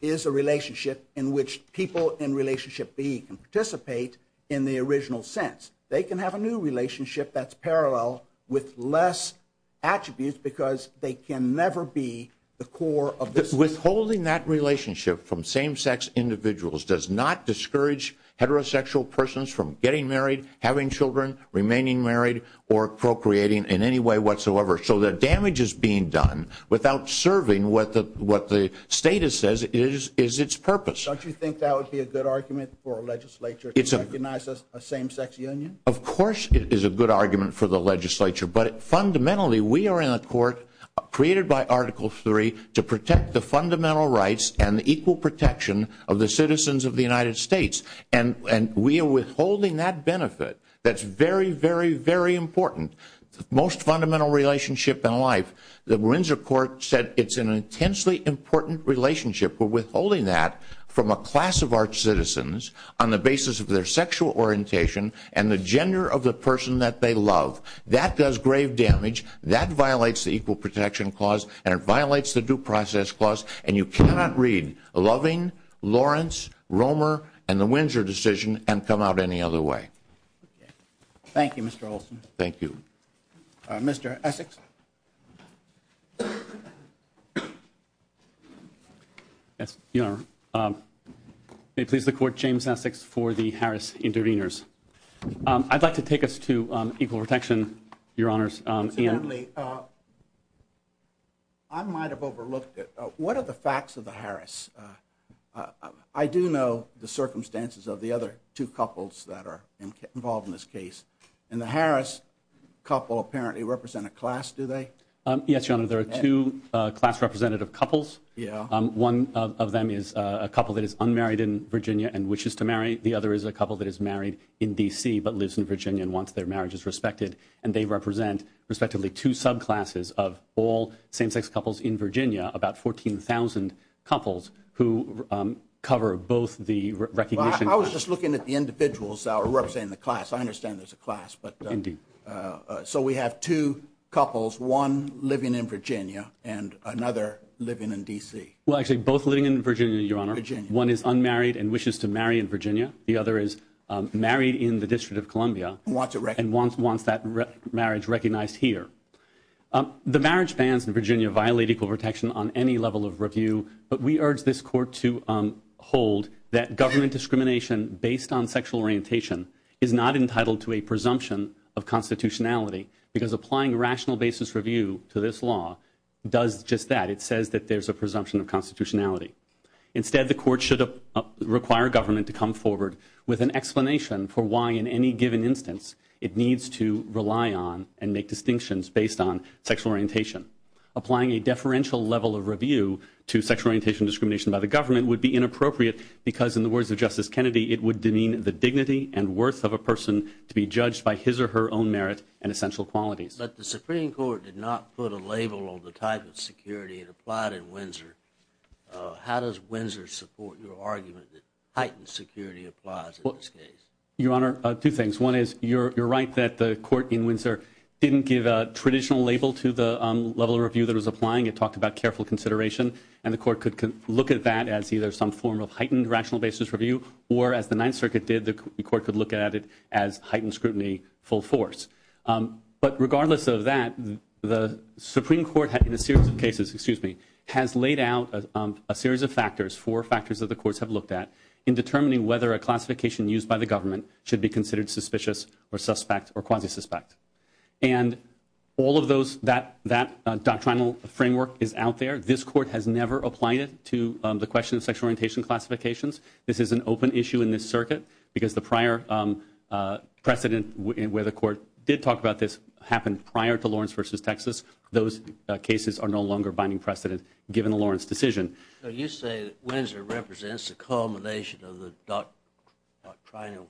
is a relationship in which people in relationship B can participate in the original sense they can have a new relationship that is parallel with less attributes because they can never be the core of this withholding that relationship from same sex individuals does not discourage heterosexual persons from getting married having children remaining married or appropriating in any way whatsoever so the damage is being done without serving what the state says is its purpose don't you think that would be a good argument for a legislature to recognize a same sex union of course it is a good argument for the legislature but fundamentally we are in a court created by article 3 to protect the fundamental rights and the equal protection of the citizens of the United States and we are withholding that benefit that is very very very important most fundamental relationship in life the court said it is an intensely important relationship for withholding that from a class of arch citizens on the basis of their sexual orientation and gender of the person that they love that does grave damage that violates the equal protection clause and it violates the due process clause and you cannot read Loving, Lawrence, Romer, and the Windsor decision and come out any other way. Thank you Mr. Olson. Thank you. Mr. Essex. May it please the court James Essex for the Harris interveners. I'd like to take us to equal protection your honors. I might have overlooked what are the facts of the Harris? I do know the circumstances of the other two couples that are involved in this case and the Harris couple apparently represent a class do they? Yes your honor there are two class representative couples. One of them is a couple that is unmarried in Virginia and another couple that is unmarried in DC but lives in Virginia and wants their marriages respected and they represent respectively two subclasses of all same-sex couples in Virginia about 14,000 couples who cover both the recognition. I was just looking at the individuals I understand there's a class but so we have two couples one living in Virginia and another living in DC. Well actually both living in Virginia your honor. One is unmarried and wishes to marry in Virginia the other is married in the District of Columbia and wants that marriage recognized here. The marriage bans in Virginia violate equal protection on any level of review but we urge this court to hold that government discrimination based on sexual orientation is not entitled to a presumption of constitutionality because applying rational basis review to this law does just that. It says there's a presumption of constitutionality. Instead the court should require government to come forward with an explanation for why in any given instance it needs to rely on and make distinctions based on sexual orientation. Applying a deferential level of review would be inappropriate because in the words of Winsor, those are her own merit and essential qualities. But the Supreme Court did not put a label on the type of security and applied in Winsor. How does Winsor support your argument that heightened security applies in this case? Your Honor, two things. One is you're right that the court in Winsor didn't give a traditional label to the level of review that was applying. There was cautionary talk about careful consideration and the court could look at that as a heightened review or as the Ninth Circuit did as heightened scrutiny. But regardless of that, the Supreme Court has laid out a series of factors, four factors that the courts have looked at in determining whether a classification used by the government should be considered suspicious or quasi suspect. This court has never applied it to the question of sexual orientation classifications. This is an open issue in this circuit. The prior precedent where the court did talk about this happened prior to Circuit. I'm not trying to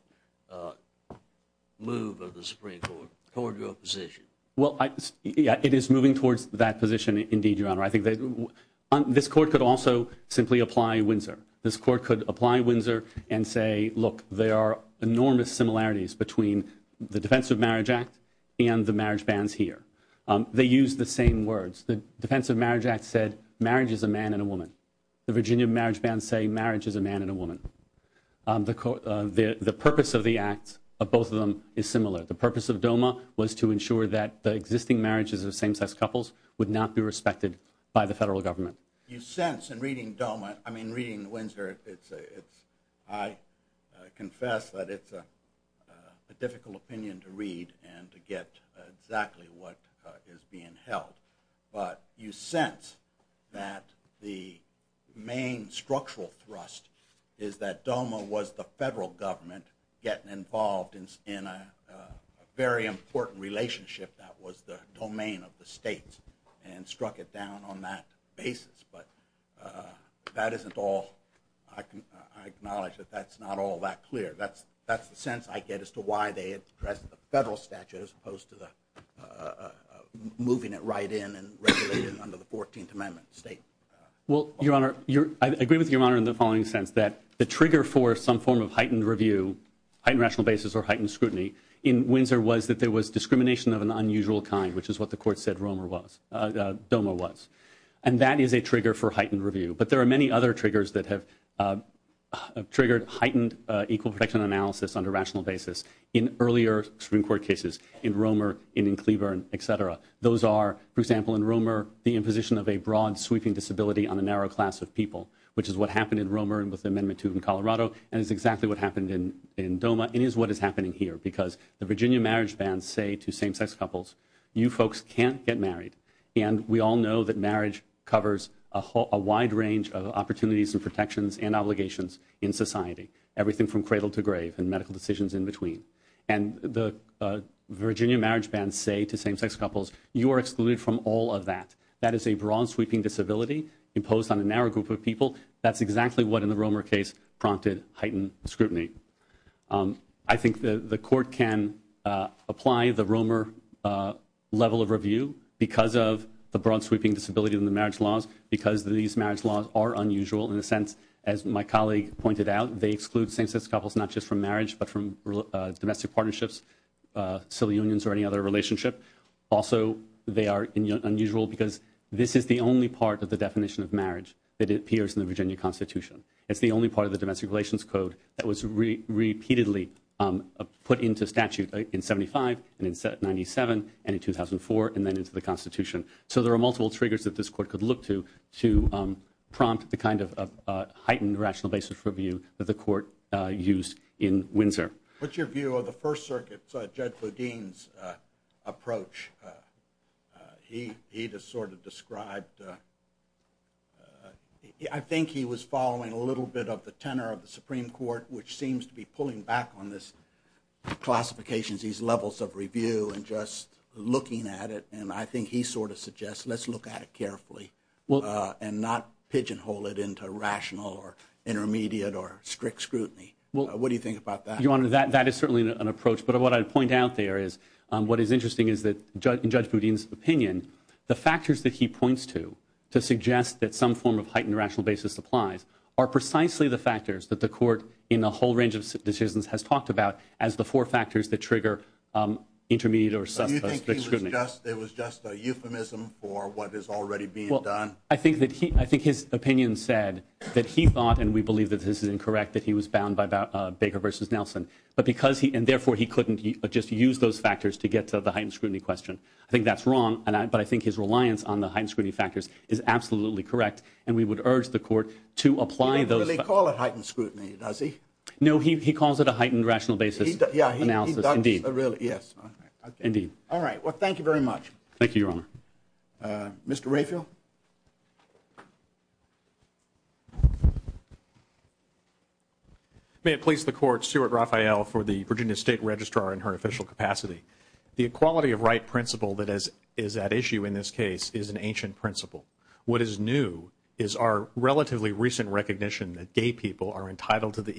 move the Supreme Court toward your position. It is moving toward that position. This court could also apply Windsor and say there are enormous similarities between the Defense of Marriage Act and the marriage bans here. The Defense of Marriage Act is similar. The purpose of DOMA was to ensure that the existing marriages would not be respected by the federal government. Reading Windsor, I confess that it is a difficult opinion to read and to get exactly what is being held. You sense that the main structural thrust is that DOMA was the federal government getting involved in a very important relationship that was the domain of the state and struck it down on that basis. I acknowledge that is not all that clear. That is the sense I get as to why they have not done that.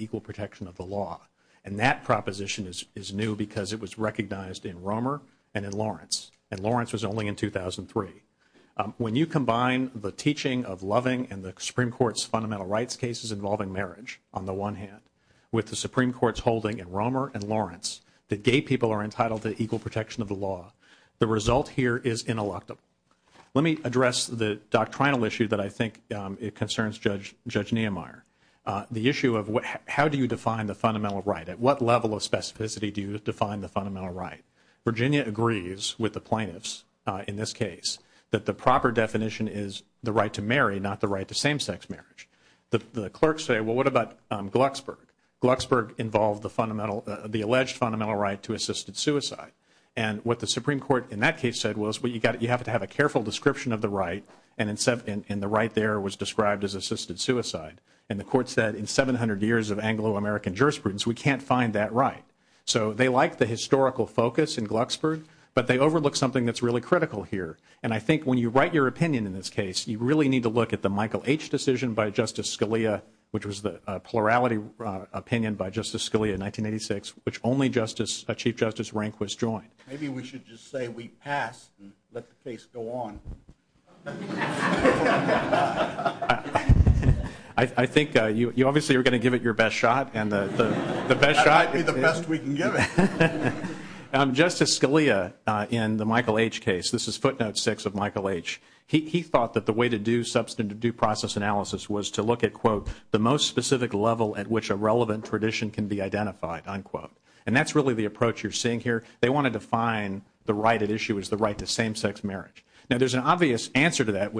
The equality of right principle is an ancient principle. What is new is our recent recognition that gay people are entitled to the equal protection of the law. That proposition is new because it was recognized in the 19th century. The result here is ineluctable. Let me address the doctrinal issue. The issue of how do you define the fundamental right. Virginia agrees with the plaintiffs in this case that the proper definition is the right to marry, not the right to same-sex marriage. The clerks say what about Glucksburg. It involved the fundamental right to assisted suicide. The Supreme Court said you have to have a careful description of the right. The court said in 700 years of Anglo-American jurisprudence, we can't find that right. They overlooked something critical here. When you look at the case of Justice Scalia, which was the plurality opinion by Justice Scalia in 1986, which only a Chief Justice rank was joined. Maybe we should just say we passed and let the case go on. I think you obviously are going to give it your best shot. That might be the best we can give you. Justice Scalia, in the Michael H. case, he thought the way to do process analysis was to look at the most specific level at which a relevant tradition can be identified. That's the approach you're seeing here. They wanted to define the right to same-sex marriage. There's an obvious answer to that.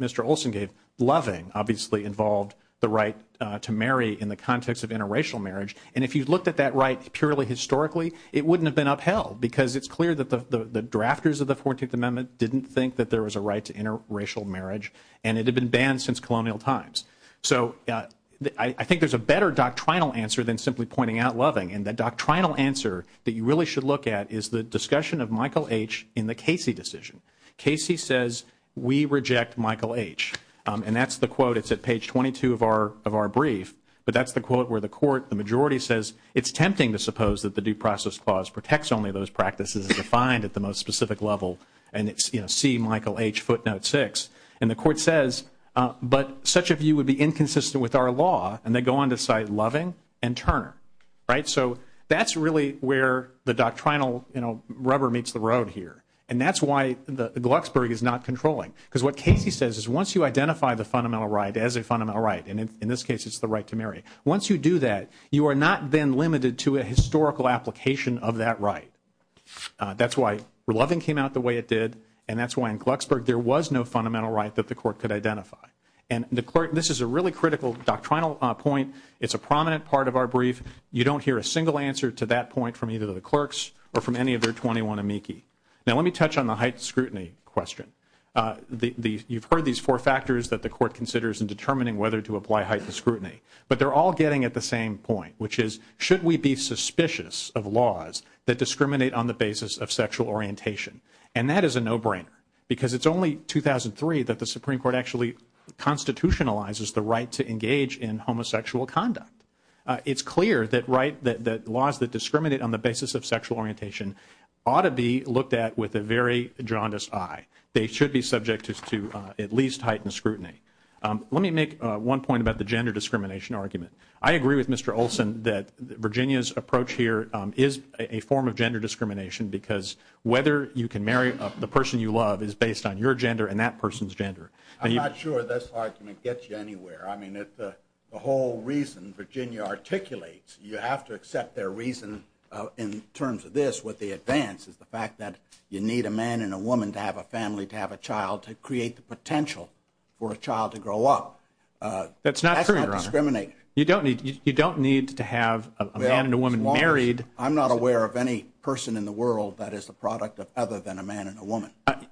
It's clear that the drafters of the 14th amendment didn't think there was a right to interracial marriage. I think there's a better answer than pointing out loving. The answer you should look at is the discussion of Michael H. in the Casey decision. Casey says we reject Michael H. That's the quote. It's at page 22 of our brief. It's tempting to suppose that the due process clause protects those practices at the most specific level. The court says such a view would be inconsistent with our law. They go on to cite loving and Turner. That's where the doctrinal rubber meets the road. That's why Glucksburg is not controlling. Once you identify the fundamental right, once you do that, you are not then limited to a historical application of that right. That's why loving came out the way it did. That's why Glucksburg had no fundamental right. This is a critical doctrinal point. It's a prominent part of our brief. You don't hear a single answer. Let me touch on the height scrutiny question. You heard the four factors. They are all getting at the same point. Should we be suspicious of laws that discriminate on the basis of sexual orientation? It's a no-brainer. It's only 2003 that the Supreme Court constitutionalized the right to engage in homosexual conduct. It's clear that laws that discriminate on the basis of sexual orientation should be looked at as a no-brainer. It's clear that Virginia's approach is a form of gender discrimination because whether you can marry the person you love is based on your gender and that person's gender. I'm not sure that gets you anywhere. The whole reason Virginia articulates you have to have a family to have a child to create the potential for a child to grow up. You don't need to have a man and a woman married. I'm not aware of any person in the world that is the product of other than a man and a woman. To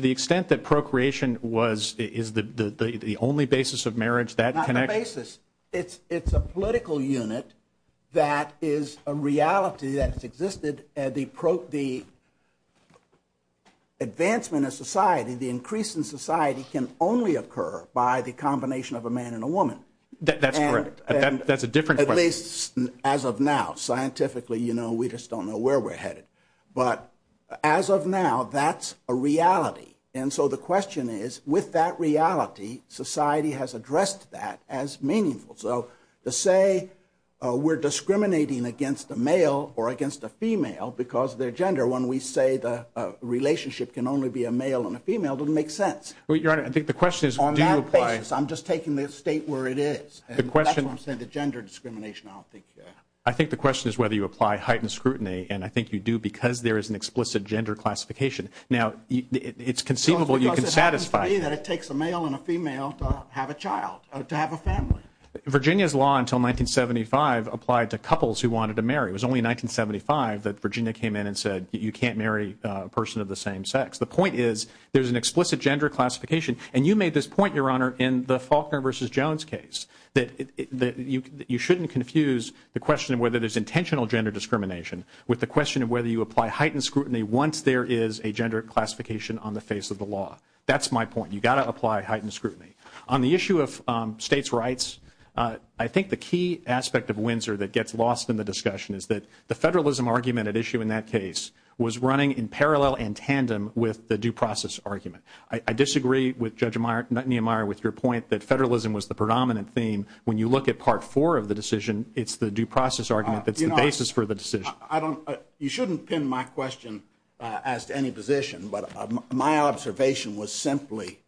the extent that procreation is the only basis of marriage. Not the basis. It's a political unit that is a reality that existed as the advancement of society, the increase in society, can only occur by the combination of a man and a woman. That's correct. That's a different question. As of now, scientifically, we don't know where we're headed. As of now, that's a reality. And so the question is, with that reality, society has addressed that as meaningful. So to say we're discriminating against a male or a female because of their gender when we say the relationship can only be a male and a female doesn't make sense. I'm just taking the state where it is. That's what I'm saying to gender discrimination. I think the question is whether you apply heightened scrutiny and I think you do because there is an explicit gender classification. Now, it's conceivable you can satisfy. It takes a male and a female to have a child, to have a family. Virginia's law until 1975 applied to couples who wanted to marry. It was only in 1975 that Virginia came in and said you can't marry a person of the same sex. The point is there's an explicit gender classification and you made this point in the Faulkner versus Jones case. You shouldn't confuse the question of whether there's intentional gender discrimination with the question of whether you apply heightened scrutiny once there is a gender classification on the face of the law. That's my point. You've got to apply heightened scrutiny. On the issue of states' rights, I think the key aspect of Windsor that gets lost in the discussion is the federalism argument at issue in that case was running in parallel and tandem with the due process argument. I disagree with Judge Neumeier with your point that federalism was the predominant theme. When you look at part four of the decision, it's the due process argument that's the basis for the decision. You shouldn't pin my question as to any position, but my observation was simply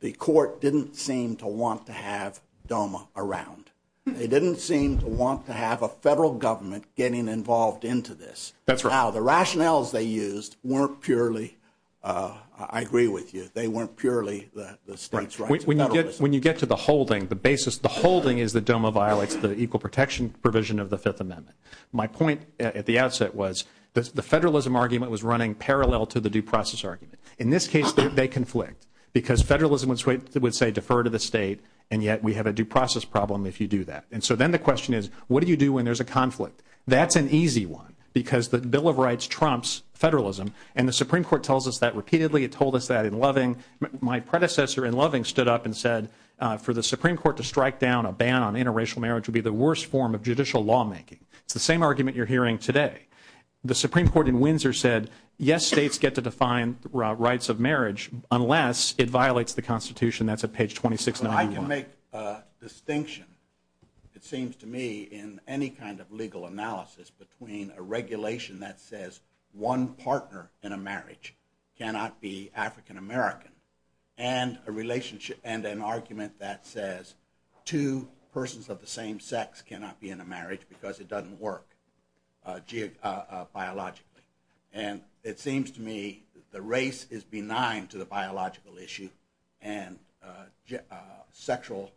the court didn't seem to want to have DOMA around. They didn't seem to want to have a federal government getting involved into this. Now, the rationales they used weren't purely, I agree with you, they weren't purely the states' rights. When you get to the holding, the basis, the holding is the DOMA violates the equal protection provision of the Fifth Amendment. My point at the outset was the federalism argument was running parallel to the due process argument. In this case, they didn't want to violate it, and yet we have a due process problem if you do that. Then the question is, what do you do when there's a conflict? That's an easy one because the Bill of Rights trumps federalism, and the Supreme Court tells us that repeatedly. It told us that in Loving. My predecessor in Loving stood up and said for the Supreme Court to strike down a ban on interracial marriage would be the worst form of judicial lawmaking. It's the same argument you're using to define rights of marriage unless it violates the Constitution. That's at page 2691. I would make a distinction, it seems to me, in any kind of legal analysis between a regulation that says one partner in a marriage cannot be African-American, and because it doesn't work biologically. It seems to me that that argument is wrong. It's not true. It's not true. It's not true. It's not true. The race is benign to the biological issue and sexual,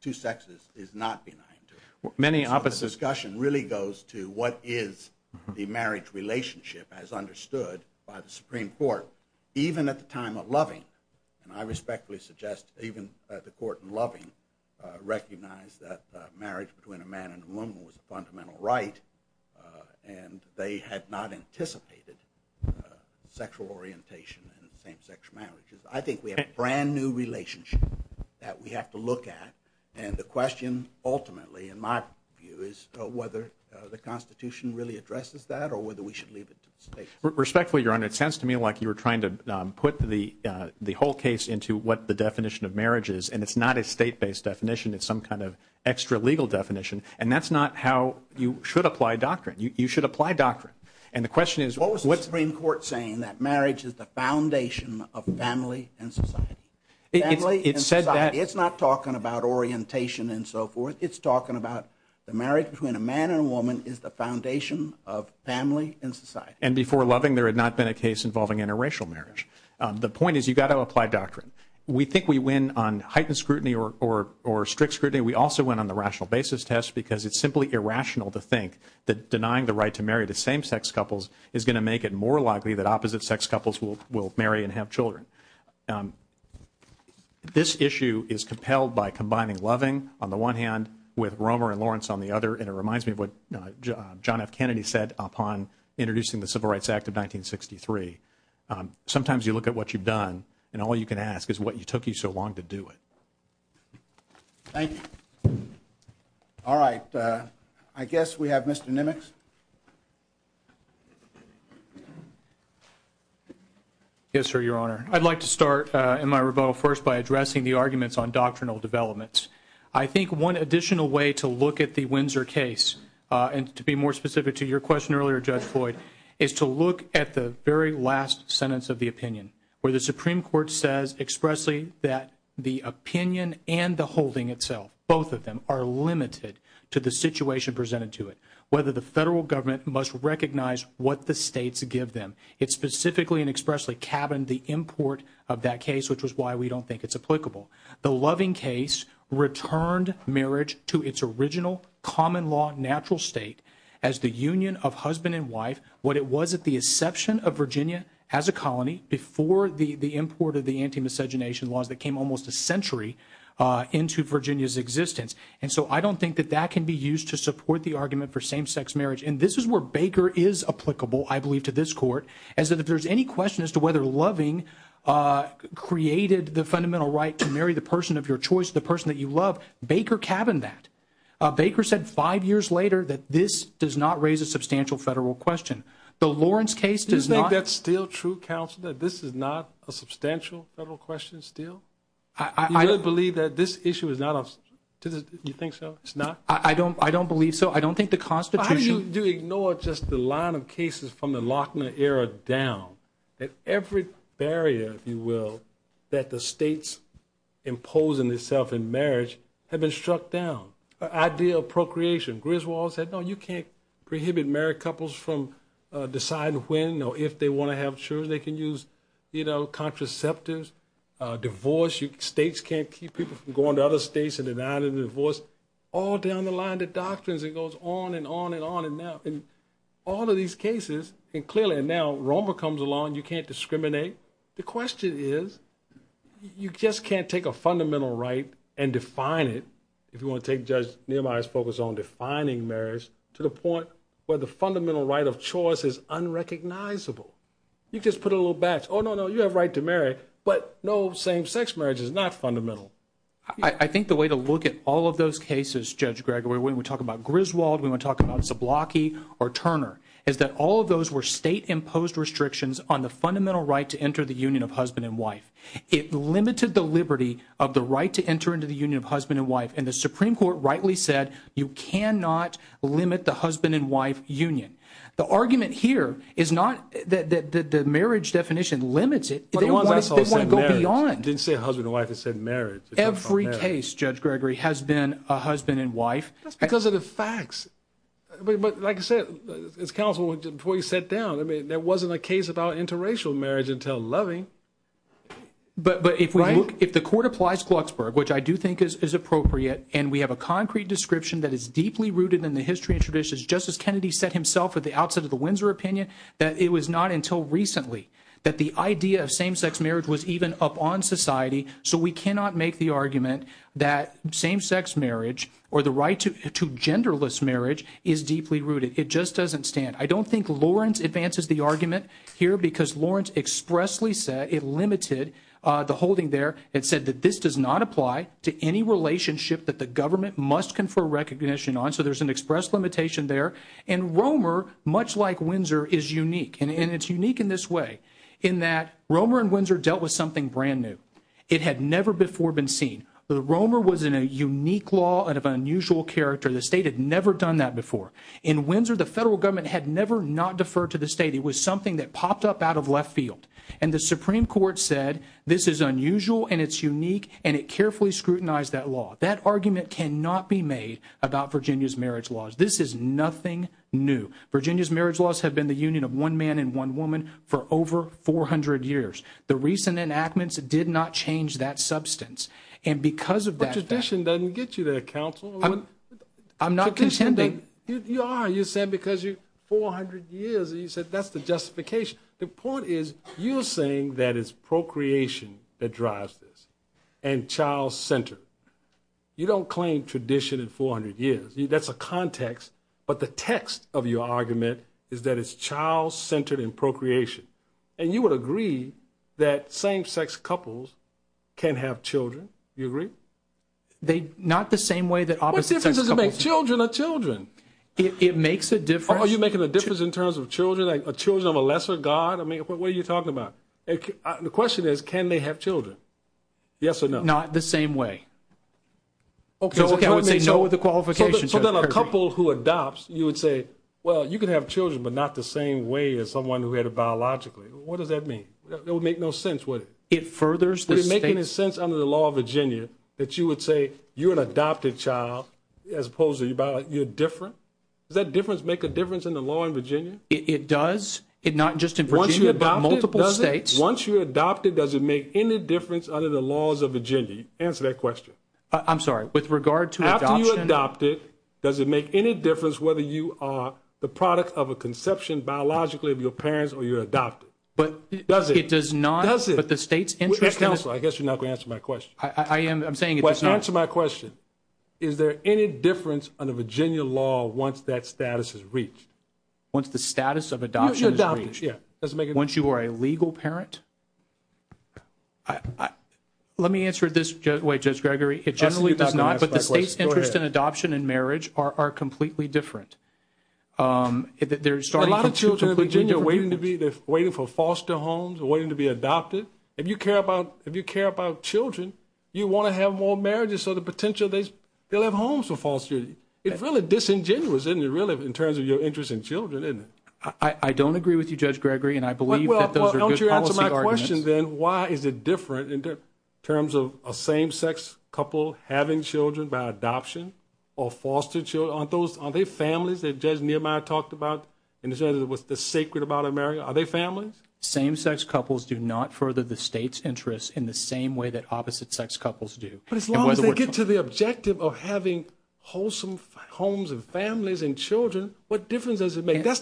two sexes is not benign to that issue. Many of the discussion really goes to what is the marriage relationship as understood by the Supreme Court. Even at the time of Loving, and I respectfully suggest even that the Court in Loving recognized that marriage between a man and a woman was a fundamental right and they had not anticipated sexual orientation in same-sex marriages. I think we have a brand-new relationship that we have to look at and the question ultimately in my view is whether the Constitution really addresses that or whether we should leave it to the state. Respectfully, Your Honor, it sounds to me like you were trying to put the whole case into what the definition of marriage is and it's not a state-based definition, it's some kind of state-based definition. The Supreme Court is saying that marriage is the foundation of family and society. It's not talking about orientation and so forth. It's talking about the marriage between a man and a woman is the foundation of family and society. And before Loving, there had not been a case involving interracial marriage. The point is you have to apply doctrine. We think we win on heightened scrutiny or strict scrutiny. We also win on the rational basis test because it's simply irrational to think that denying the right to marry the same sex couples is going to make it more likely that opposite sex couples will marry and have children. This issue is compelled by combining Loving on the one hand with Romer and Lawrence on the other and it reminds me of what John F. Kennedy said upon introducing the Civil Rights Act of 1963. Sometimes you look at what you've done and all you can ask is what took you so long to do it. Thank you. All right. I guess we have Mr. Nimitz. Yes, sir, your honor. I'd like to start in my rebuttal first by addressing the arguments on doctrinal developments. I think one additional way to look at the Windsor case and question earlier, Judge Floyd, is to look at the very last sentence of the opinion where the Supreme Court says expressly that there is no right to marry the same sex. The opinion and the holding itself, both of them, are limited to the situation presented to it. Whether the federal government must recognize what the states give them. It's specifically and expressly cabined the import of that case which is why we don't think it's applicable. The loving case returned marriage to its original common law natural state as the union of husband and wife. I don't think that can be used to support the argument for same sex marriage. This is where Baker is applicable to this court. If there's any question as to whether loving created the fundamental right to marry the person of your choice, the person that you love, Baker cabined that. Baker said five years later this does not raise a substantial federal question. The Lawrence case does not. This is not a substantial federal question. Do you believe that this issue is not a constitutional issue? I don't believe so. I don't think the Constitution How do you ignore the line of cases from the down? Every barrier that the states impose on themselves in marriage have been struck down. The idea of procreation, Griswold said you can't prohibit married couples from deciding when to have children, contraceptives, divorce, states can't keep people from going to other states and denying divorce, all down the line the doctrine goes on and on. All of these cases, now Romer comes along, you can't discriminate. The question is you can't take a fundamental right and define it to the point where the fundamental right of choice is unrecognizable. You have the right to marry, but no same-sex marriage is not fundamental. I think the way to look at all of those cases, we talk about Griswold, Zablocki, Turner, all of those were state-imposed restrictions on the fundamental right to enter the union of husband and wife. The Supreme Court rightly said you restrict the union. The argument here is not that the marriage definition limits it. It doesn't go beyond. Every case has been a husband and wife. Like I said, there wasn't a case about interracial marriage until loving. If the court applies Glucksburg, which I think is appropriate, and we have a concrete description that is deeply rooted in the history and traditions, it was not until recently that the idea of same-sex marriage was even up on society. We cannot make the argument that same-sex marriage or the right to genderless marriage is deeply rooted. I don't think Lawrence advances the argument here because Lawrence expressly said it limited the holding there and said that this does not apply to any relationship that the government must confer recognition on. So there's an express limitation there. And Romer, much like Windsor, is unique. And it's unique in this way in that Romer and Windsor dealt with something brand new. It had never before been seen. Romer was in a unique law out of unusual character. The state had never done that before. In Windsor, the federal government had never not deferred to the state. It was something that popped up out of left field. And the Supreme Court said this is unusual and it's unique and it carefully scrutinized that law. That argument cannot be made about Virginia's marriage laws. This is nothing new. Virginia's marriage laws have been the union of one man and one woman for over 400 years. The recent enactments did not change that substance. The point is you are saying that it's procreation that drives this. And child center. You don't claim tradition in 400 years. That's a context but the text of your argument is that it's child centered in procreation. And you would agree that same sex couples can have children. Do you agree? What difference does it make? Children are children. Are you making a difference in terms of children? What are you talking about? The question is can they have children? Yes or no? Not the same way. A couple who adopt you would say you can have children but not the same way. What does that mean? It would make no sense. Would it make sense under the law of Virginia that you would say you are an adopted child? Does that make a difference in the law in Virginia? It does. Once you adopt it, does it make any difference under the laws of Virginia? After you adopt it, does it make any difference whether you are the product of a conception biologically of your parents or adopted? It does not. I guess you are not going to answer my question. Answer my question. Is there any difference under Virginia law once that status is reached? Once the status of adoption is reached? Once you are a legal parent? Let me answer this. The states interest in adoption and marriage are completely different. A lot of children are waiting for foster homes and waiting to be adopted. If you care about children, you want to have more marriages. It is disingenuous in terms of your interest in children. I don't agree with you. Why is it different in terms of same-sex couples having children by adoption or foster children? Are they families? Are they families? Same-sex couples do not further the state's interest in the same way that opposite-sex couples do. As long as they get to the objective of having wholesome homes and families and children, what difference does it make? The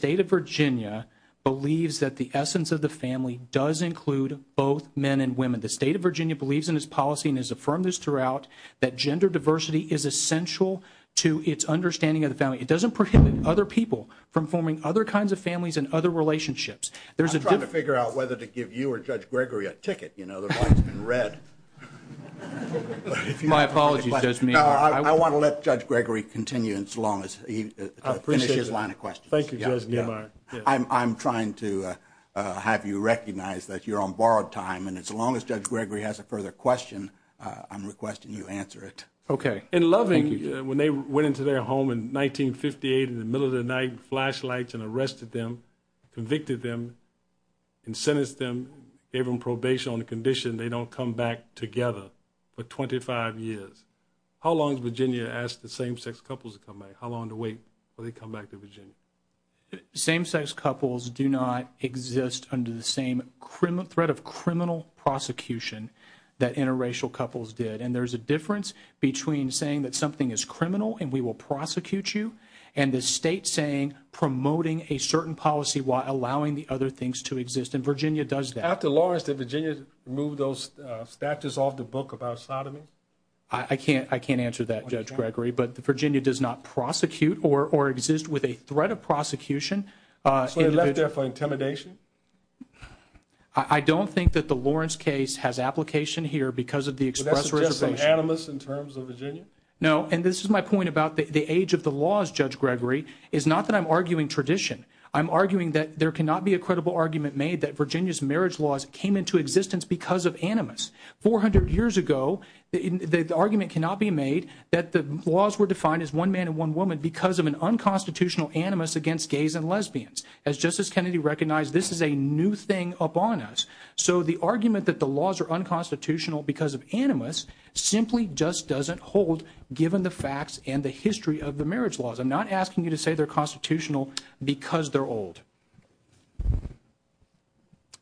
state of Virginia believes that the essence of the family does include both men and women. The state believes that gender diversity is essential to its understanding of the family. It doesn't prohibit other people from forming other kinds of families and other relationships. I'm trying to figure out whether to give you or Judge Gregory a ticket. I want to let Judge Gregory continue as long as he finishes his line of questions. Thank you, Judge. I'm trying to have you recognize that you're on borrowed time. As long as Judge Gregory has a further question, I'm requesting you answer it. In Loving, when they went into their home in 1958 in the middle of the night and arrested them, convicted them and sentenced them, gave them probation on the condition they don't have to come back together for 25 years, how long does Virginia ask same-sex couples to come back? Same-sex couples do not exist under the same threat of criminal prosecution that interracial couples did. There's a difference between saying something is criminal and we will prosecute you and the state saying promoting a certain policy while allowing the other things to exist. Virginia does that. After Lawrence, did Virginia remove those statutes off the book about sodomy? I can't answer that, Judge Gregory, but Virginia does not prosecute or exist with a threat of prosecution. I don't think that the Lawrence case has application here because of the express resolution. This is my point about the age of the laws, Judge Gregory, is not that I'm arguing tradition. I'm arguing that there cannot be a credible argument made that Virginia's marriage laws came into existence because of animus. 400 years ago, the argument cannot be made laws were defined as one man and one woman because of an unconstitutional animus against gays and lesbians. The argument that the laws are not constitutional because they're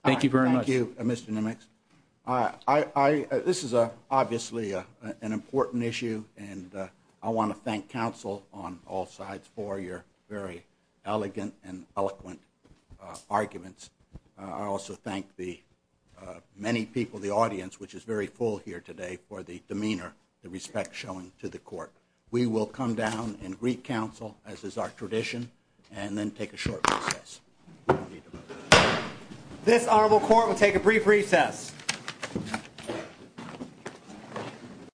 Thank you very much. Thank you, Mr. Nimitz. This is obviously an important issue, and I want to thank counsel on all sides for your very elegant and eloquent arguments. I also thank the many people, the audience, which is very full here today for the demeanor, the respect shown to the counsel as is our tradition, and then take a short recess. This honorable court will take a brief recess.